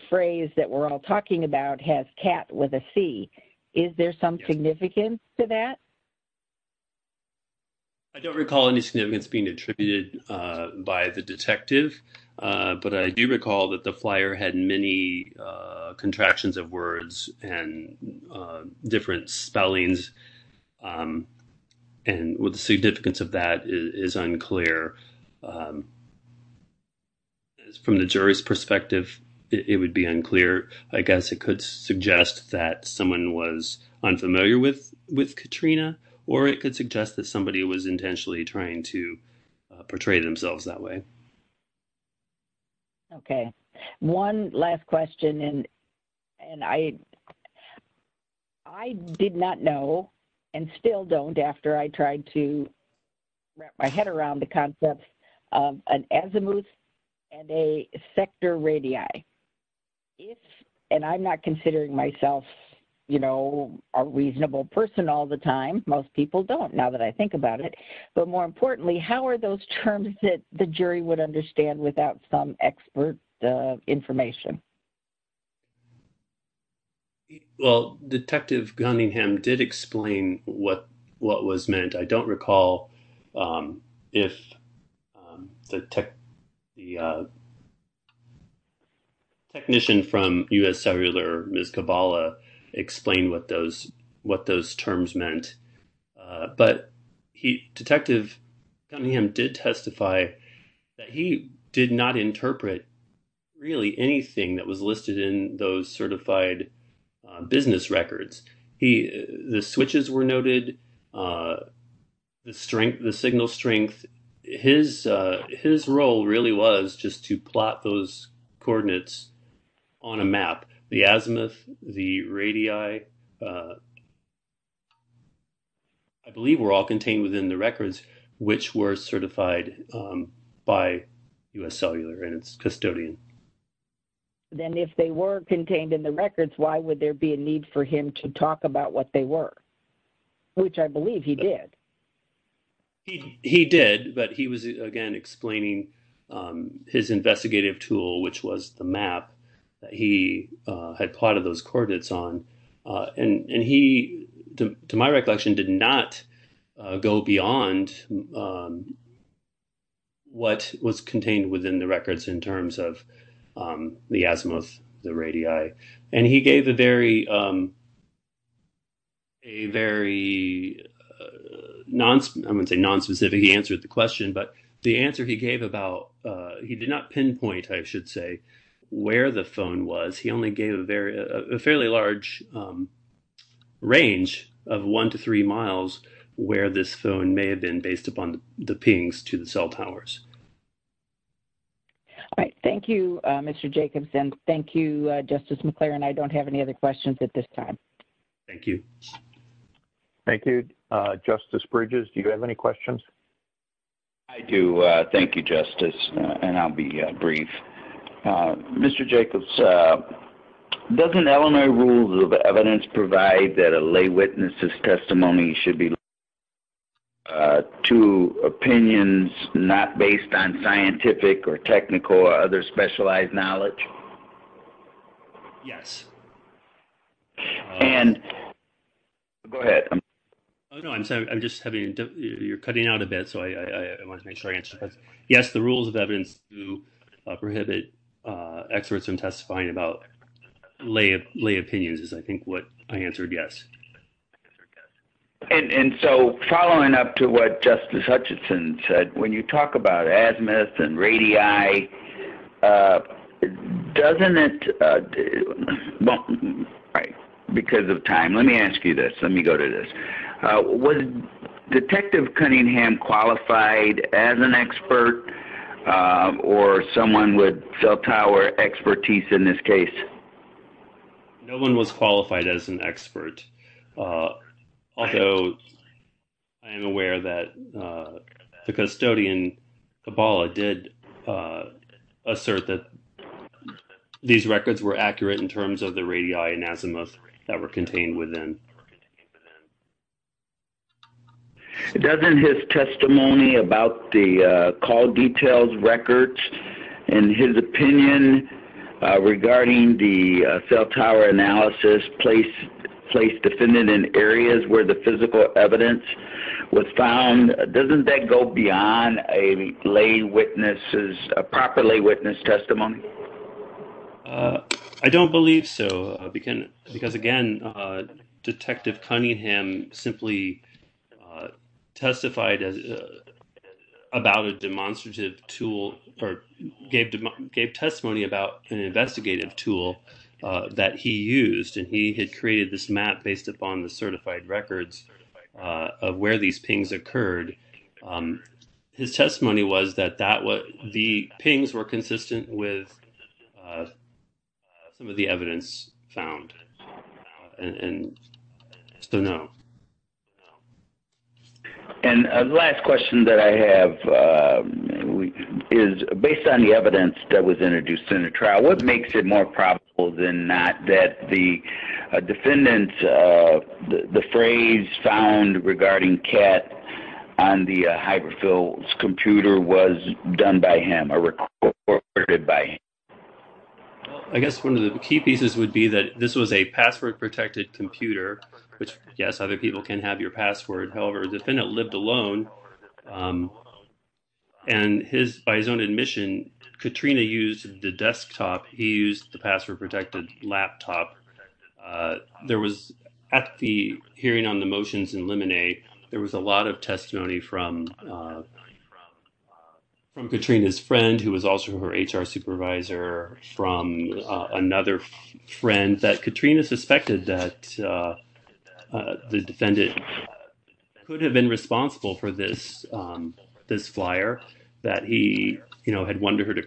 phrase that we're all talking about has cat with a C. Is there some significance to that? I don't recall any significance being attributed by the detective, but I do recall that the flyer had many contractions of words and different spellings, and the significance of that is unclear. From the jury's perspective, it would be unclear. I guess it could suggest that someone was unfamiliar with Katrina, or it could suggest that somebody was intentionally trying to portray themselves that way. Okay. One last question, and I did not know and still don't after I tried to wrap my head around the concept of an azimuth and a sector radii. If, and I'm not considering myself, you know, a reasonable person all the time, most people don't now that I think about it, but more importantly, how are those terms that the jury would understand without some expert information? Well, Detective Cunningham did explain what was meant. I don't recall if the technician from U.S. Cellular, Ms. Cavalla, explained what those terms meant, but Detective Cunningham did testify that he did not interpret really anything that was listed in those certified business records. The switches were noted, the signal strength was noted. His role really was just to plot those coordinates on a map. The azimuth, the radii, I believe were all contained within the records, which were certified by U.S. Cellular and its custodian. Then if they were contained in the records, why would there be a need for him to talk about what they were, which I believe he did. He did, but he was, again, explaining his investigative tool, which was the map that he had plotted those coordinates on. And he, to my recollection, did not go beyond what was contained within the records in terms of the azimuth, the radii. And he gave a very a very I wouldn't say nonspecific answer to the question, but the answer he gave about, he did not pinpoint, I should say, where the phone was. He only gave a fairly large range of one to three miles where this phone may have been based upon the pings to the cell towers. All right. Thank you, Mr. Jacobson. Thank you, Justice McClaren. I don't have any other questions at this time. Thank you. Thank you, Justice McClaren. Mr. Bridges, do you have any questions? I do. Thank you, Justice. And I'll be brief. Mr. Jacobson, doesn't elementary rules of evidence provide that a lay witness's testimony should be linked to opinions not based on scientific or technical or other specialized knowledge? Yes. And go ahead. I'm sorry. You're cutting out a bit, so I want to make sure I answer that. Yes, the rules of evidence prohibit experts from testifying about lay opinions is, I think, what I answered yes. And so following up to what Justice Hutchinson said, when you talk about asthma and radii, doesn't it do because of time? Let me ask you this. Let me go to this. Was Detective Cunningham qualified as an expert or someone with sub-power expertise in this case? No one was qualified as an expert. Also, I am aware that the custodian, Kabala, did assert that these records were accurate in terms of the radii and asthma that were contained within. Doesn't his testimony about the call details records and his opinion regarding the cell tower analysis place defendant in areas where the physical evidence was found, doesn't that go beyond a lay witness, a proper lay witness testimony? I don't believe so. Because again, Detective Cunningham simply testified about a demonstrative tool or gave testimony about an investigative tool that he used and he had created this map based upon the certified records of where these pings occurred. His testimony was that the pings were consistent with the evidence. So, I don't believe that he found it. So, no. The last question that I have is based on the evidence that was introduced in the trial, what makes it more probable than not that the defendant, the phrase found regarding Kat on the desktop, that this was a password protected computer, yes, other people can have your password, however, the defendant lived alone and by his own admission, Katrina used the desktop, he used the password protected laptop. There was, at the hearing on the motions in Lemonade, there was a lot of testimony from Katrina's friend who was there. I don't believe that Katrina suspected that the defendant could have been responsible for this flyer, that he had wanted her to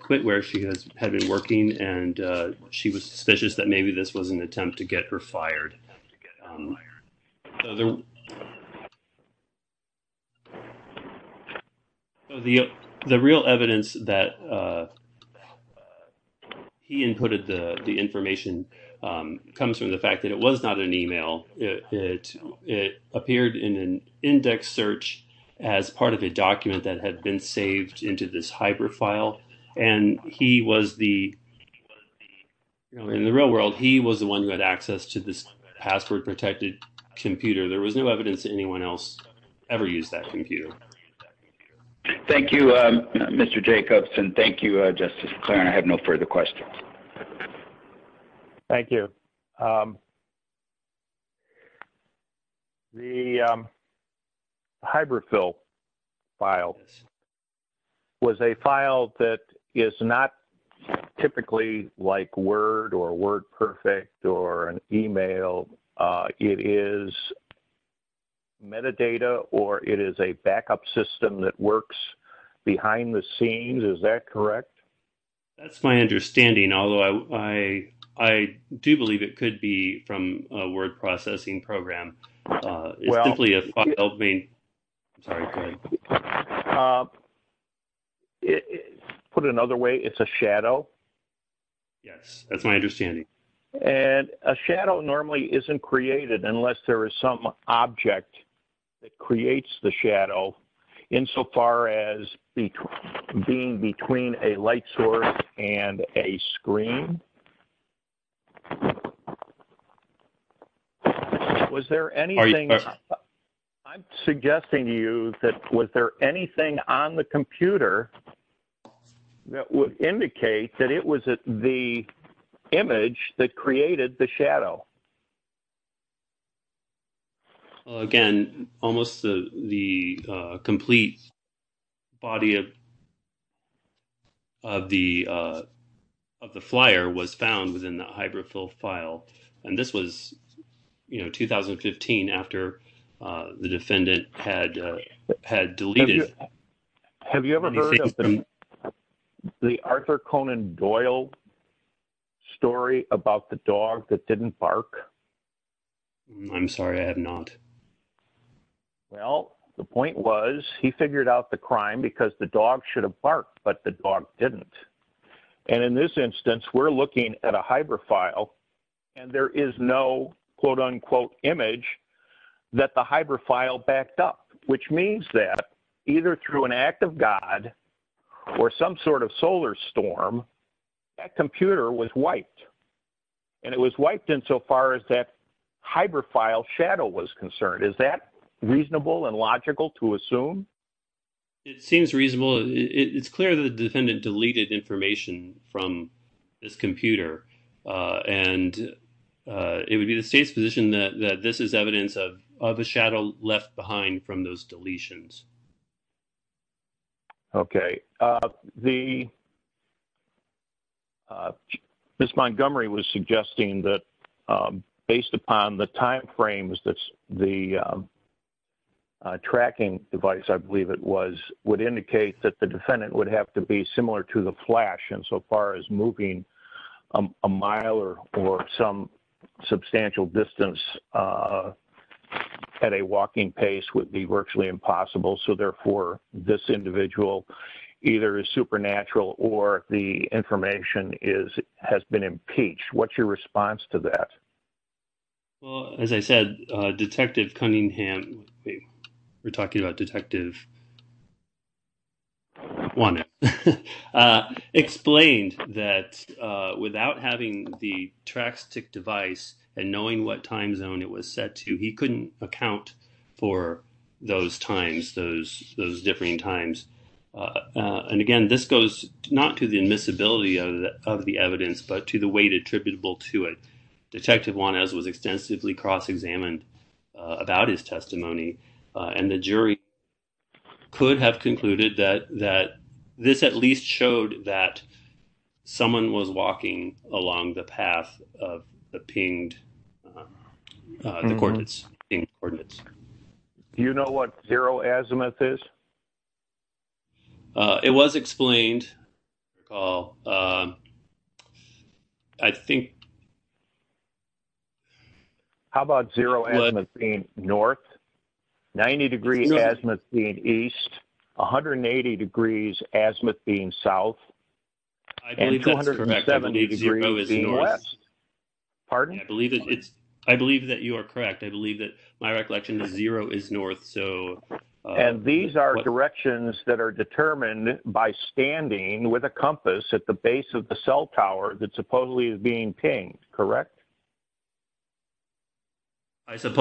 quit where she had been working and she was suspicious that maybe this was an attempt to get her fired. The real evidence that he inputted the information comes from the fact that it was not an e-mail, it appeared in an index search as part of a document that had been saved into this hyper file in the real world, he was the one who had access to this hyper file and he used that password protected computer. There was no evidence that anyone else ever used that computer. Thank you, Mr. Jacobs and thank you, Justice McLaren. I have no further questions. Thank you. The hyper file was a file that is not typically like word or word perfect or an e-mail. It is metadata or it is a backup system that works behind the scenes, is that correct? That's my understanding, although I do believe it could be from a word processing program. Put another way, it's a shadow. Yes, that's my understanding. A shadow normally isn't created unless there is some object that creates the shadow insofar as being between a light source and a screen. Was there anything I'm suggesting to you that was there anything on the computer that would indicate that it was the image that created the shadow? Again, almost the complete body of the of the flyer was found within the hybrid full file. And this was 2015 after the defendant had had deleted. Have you ever heard of the Arthur Conan Doyle story about the dog that didn't bark? I'm sorry, I have not. Well, the point was he figured out the crime because the dog should have barked, but the dog didn't. And in this instance, we're looking at a hybrid file and there is no quote unquote image that the hybrid file backed up, which means that either through an act of God or some sort of solar storm, that computer was wiped. And it was wiped in so far as that hybrid file shadow was concerned. Is that reasonable and logical to assume? It seems reasonable. It's clear that the defendant deleted information from this computer and it would be the state's position that this is evidence of the shadow left behind from those deletions. Okay. Ms. Montgomery was suggesting that based upon the time frames that the tracking device, I believe it was, would indicate that the defendant would have to be similar to the flash in so far as moving a mile or some substantial distance at a walking pace would be virtually impossible so therefore this individual either is supernatural or the information has been impeached. What's your response to that? As I said, Detective Cunningham we're talking about Detective Wanek explained that without having the track stick device and knowing what time zone it was set to, he couldn't account for those times, those different times. Again, this goes not to the invisibility of the evidence but to the weight attributable to it. Detective Wanek was extensively cross-examined about his testimony and the jury could have concluded that this at least showed that someone was walking along the path of the scene. haven't explained the coordinates. Do you know what zero azimuth is? It was explained. I think How about zero azimuth being north, 90 degree azimuth being east, 180 degrees azimuth being south, and 270 degrees being west. Pardon me. I believe that you are correct. My recollection is zero is north. These are directions that are determined by standing with a compass at the base of the cell tower that supposedly is pinged, correct? I don't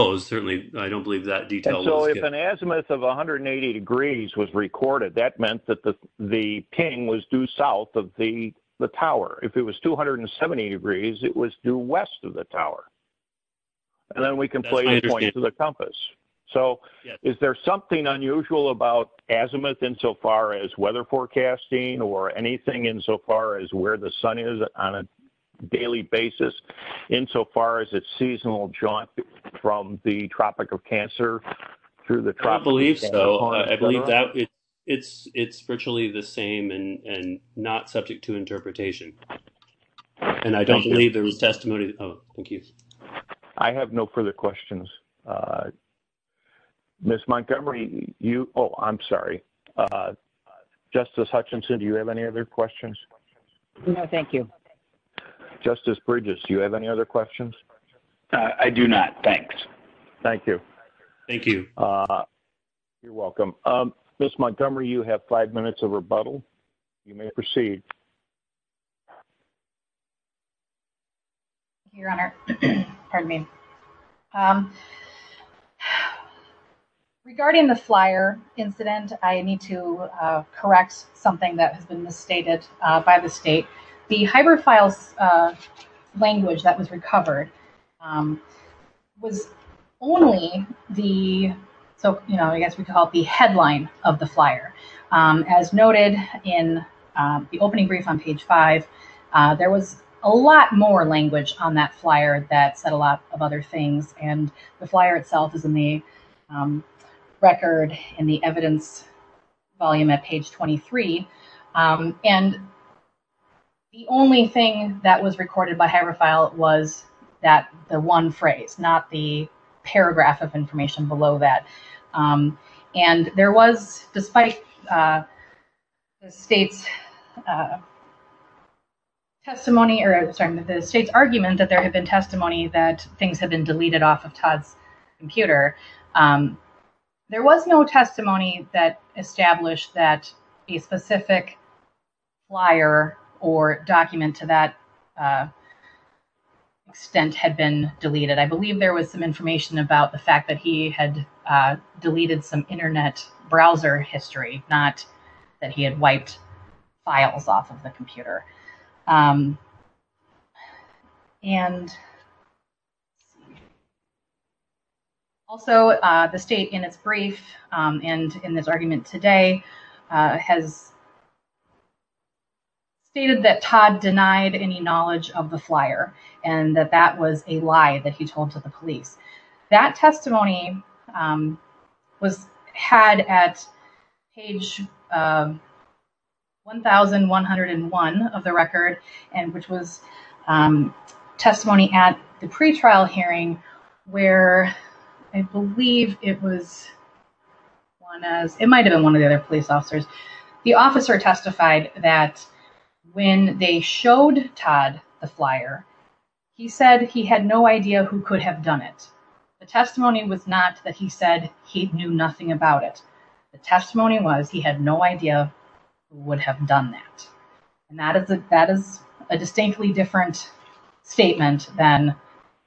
believe that detail. If an azimuth of 180 degrees was recorded, that meant that the ping was due south of the tower. If it was 270 degrees, it was due west of the tower. Is there something unusual about azimuth in so far as weather forecasting or anything in so far as where the sun is on a daily basis in so far as its seasonal jaunt from the Tropic of Cancer through the tropics? I believe that it's virtually the same and not subject to interpretation. I don't believe there was testimony to the public. Thank you. I have no further questions. Ms. Montgomery, oh, I'm sorry. Justice Hutchinson, do you have any other questions? No, thank you. Justice Bridges, do you have any other questions? I do not, thanks. Thank you. Thank you. You're welcome. Ms. Montgomery, any other questions? Your Honor, pardon me. Regarding the flyer incident, I need to correct something that has been misstated by the state. The hyper file language that was recovered was only the, I guess we call it the headline of the flyer. As noted in the opening brief on page 5, there was a lot more language on that flyer. The flyer itself is in the record and the evidence volume at page 23. The only thing that was recorded by hyper file was the one phrase, not the paragraph of information below that. And there was, despite the state's testimony, sorry, the state's argument that there had been testimony that things had been deleted off of Todd's computer, there was no testimony that established that a specific flyer or document to that extent had been deleted. I believe there was some information about the fact that he had deleted some internet browser history, not that he had wiped files off of the computer. Also, the state in its brief and in its argument today has stated that Todd denied any knowledge of the flyer and that that was a lie that he told to the police. That testimony was had at page 1101 of the record, and which was testimony at the pretrial hearing where I believe it was, it might have been one of the other police officers, the officer testified that when they showed Todd the flyer, he said he had no idea who could have done it. The testimony was not that he said he knew nothing about it. The testimony was he had no idea who would have done that. And that is a distinctly different statement than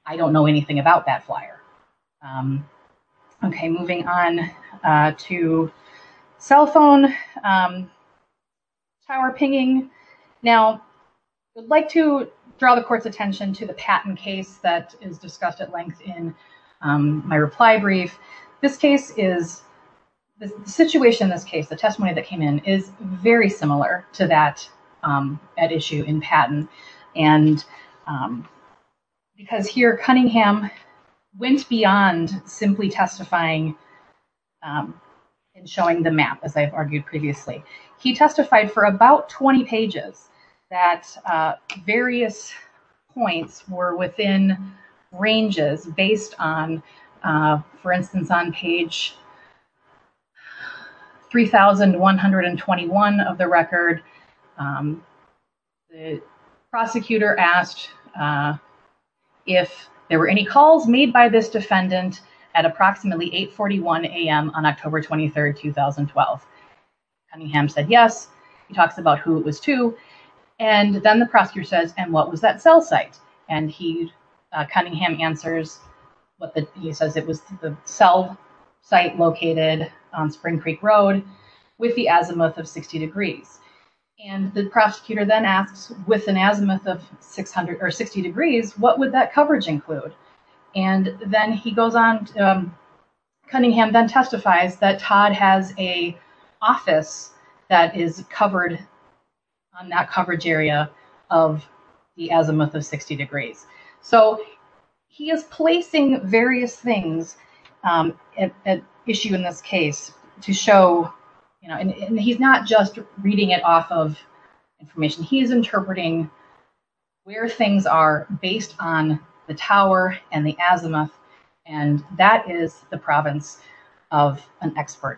I don't know anything about that flyer. Okay, moving on to cell phone power pinging. Now, I'd like to draw the court's attention to the patent case that is discussed at length in my reply brief. This case is, the situation of the case, the testimony that came in is very similar to that issue in patent. And because here Cunningham went beyond simply testifying and showing the map, as I've argued previously. He testified for about 20 pages that various points were within ranges based on, for instance, on page 3,121 of the record. The prosecutor asked if there were any calls made by this approximately 841 a.m. on October 23, 2012. Cunningham said yes. He talks about who it was to. And then the prosecutor says, and what was that cell site? And Cunningham answers he says it was the cell located on Spring Creek Road with the azimuth of 60 degrees. And the prosecutor asks what would that coverage include? And Cunningham testifies that Todd has an office that is covered on that coverage area of the azimuth of 60 degrees. So he is placing various things at issue in this case to show and he's not just reading it off of information. He's interpreting where things are based on the tower and the azimuth and that is the province of an area of the azimuth degrees. And he says it was Spring Creek Road with the azimuth of 60 degrees. And Cunningham testifies that Todd has an office that is covered on that coverage area of the azimuth of 60 degrees. off of but he's interpreting where things on the azimuth of 60 degrees. And he's not just reading it off of information but he's interpreting where things are based on the azimuth are based on the azimuth of 60 degrees. He's interpreting where things are based on the azimuth of 60 degrees. And he's interpreting where things are based on the azimuth of 60 degrees. The exchange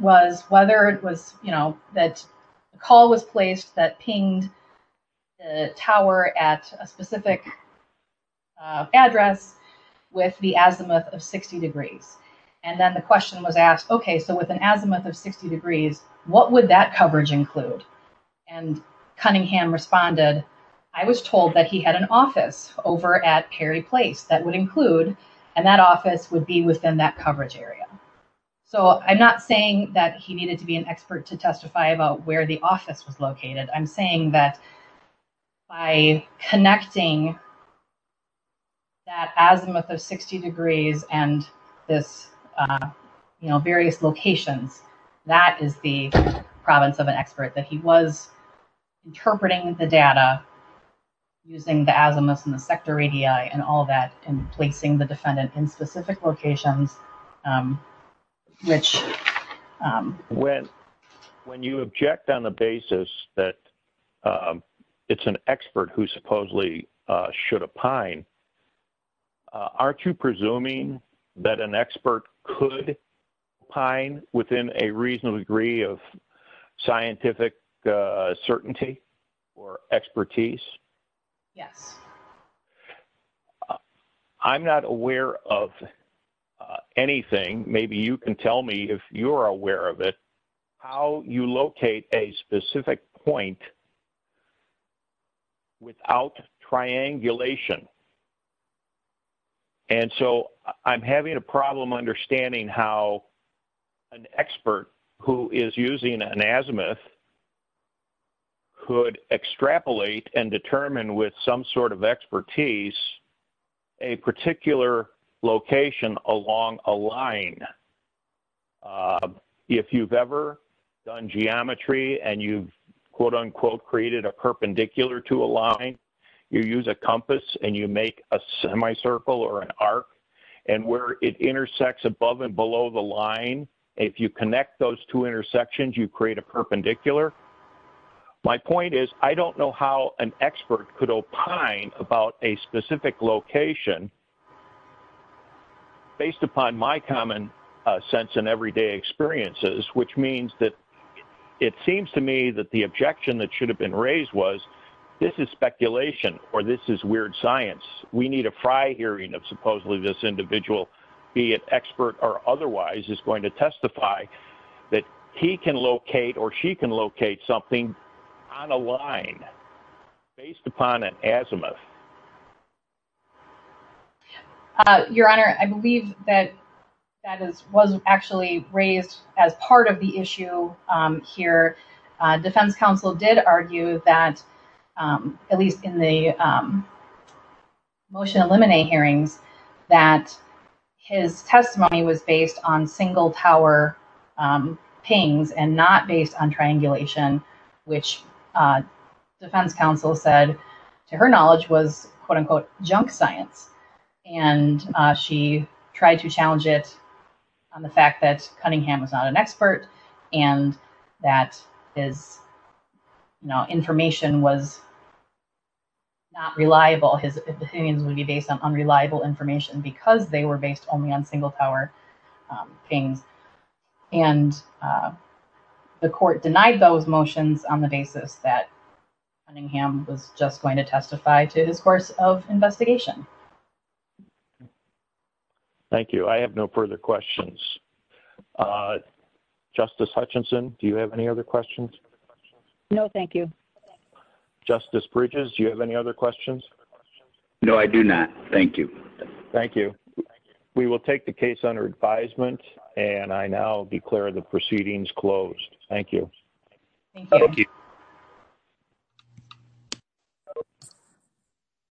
was whether it was, you know, that call was placed that pinged the tower at a specific address with the azimuth of 60 degrees. And then the question was asked, okay, so with an azimuth of 60 degrees, what would that coverage include? And Cunningham responded, I was told that he had an office over at Perry Place that would include, and that office would be within that coverage area. So I'm not saying that he needed to be an expert to testify about where the office was located. I'm saying that by connecting that azimuth of 60 degrees and this, you know, various locations, that is the province of an expert, that he was interpreting the data using the azimuth and the sector ADI and all that and placing the defendant in specific locations, which... When you object on the basis that it's an expert who supposedly should opine, aren't you presuming that an expert could opine within a reasonable degree of scientific certainty or expertise? Yes. I'm not aware of anything. Maybe you can tell me if you're aware of it, how you locate a specific point without triangulation. And so, I'm having a problem understanding how an expert who an azimuth could extrapolate and determine with some sort of expertise a particular location along a line. If you've ever seen a